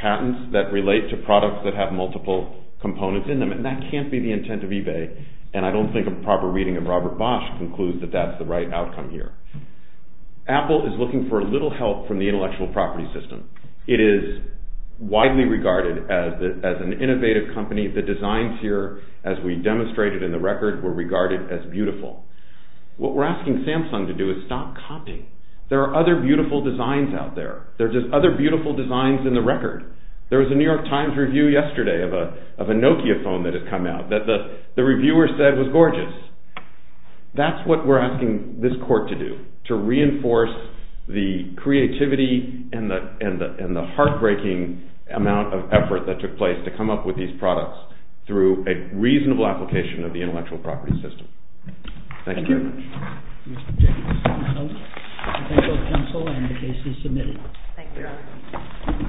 patents that relate to products that have multiple components in them. And that can't be the intent of eBay. And I don't think a proper reading of Robert Bosch concludes that that's the right outcome here. Apple is looking for a little help from the intellectual property system. It is widely regarded as an innovative company. The designs here, as we demonstrated in the record, were regarded as beautiful. What we're asking Samsung to do is stop copying. There are other beautiful designs out there. There are just other beautiful designs in the record. There was a New York Times review yesterday of a Nokia phone that had come out that the reviewer said was gorgeous. That's what we're asking this court to do, to reinforce the creativity and the heartbreaking amount of effort that took place to come up with these products through a reasonable application of the intellectual property system. Thank you very much.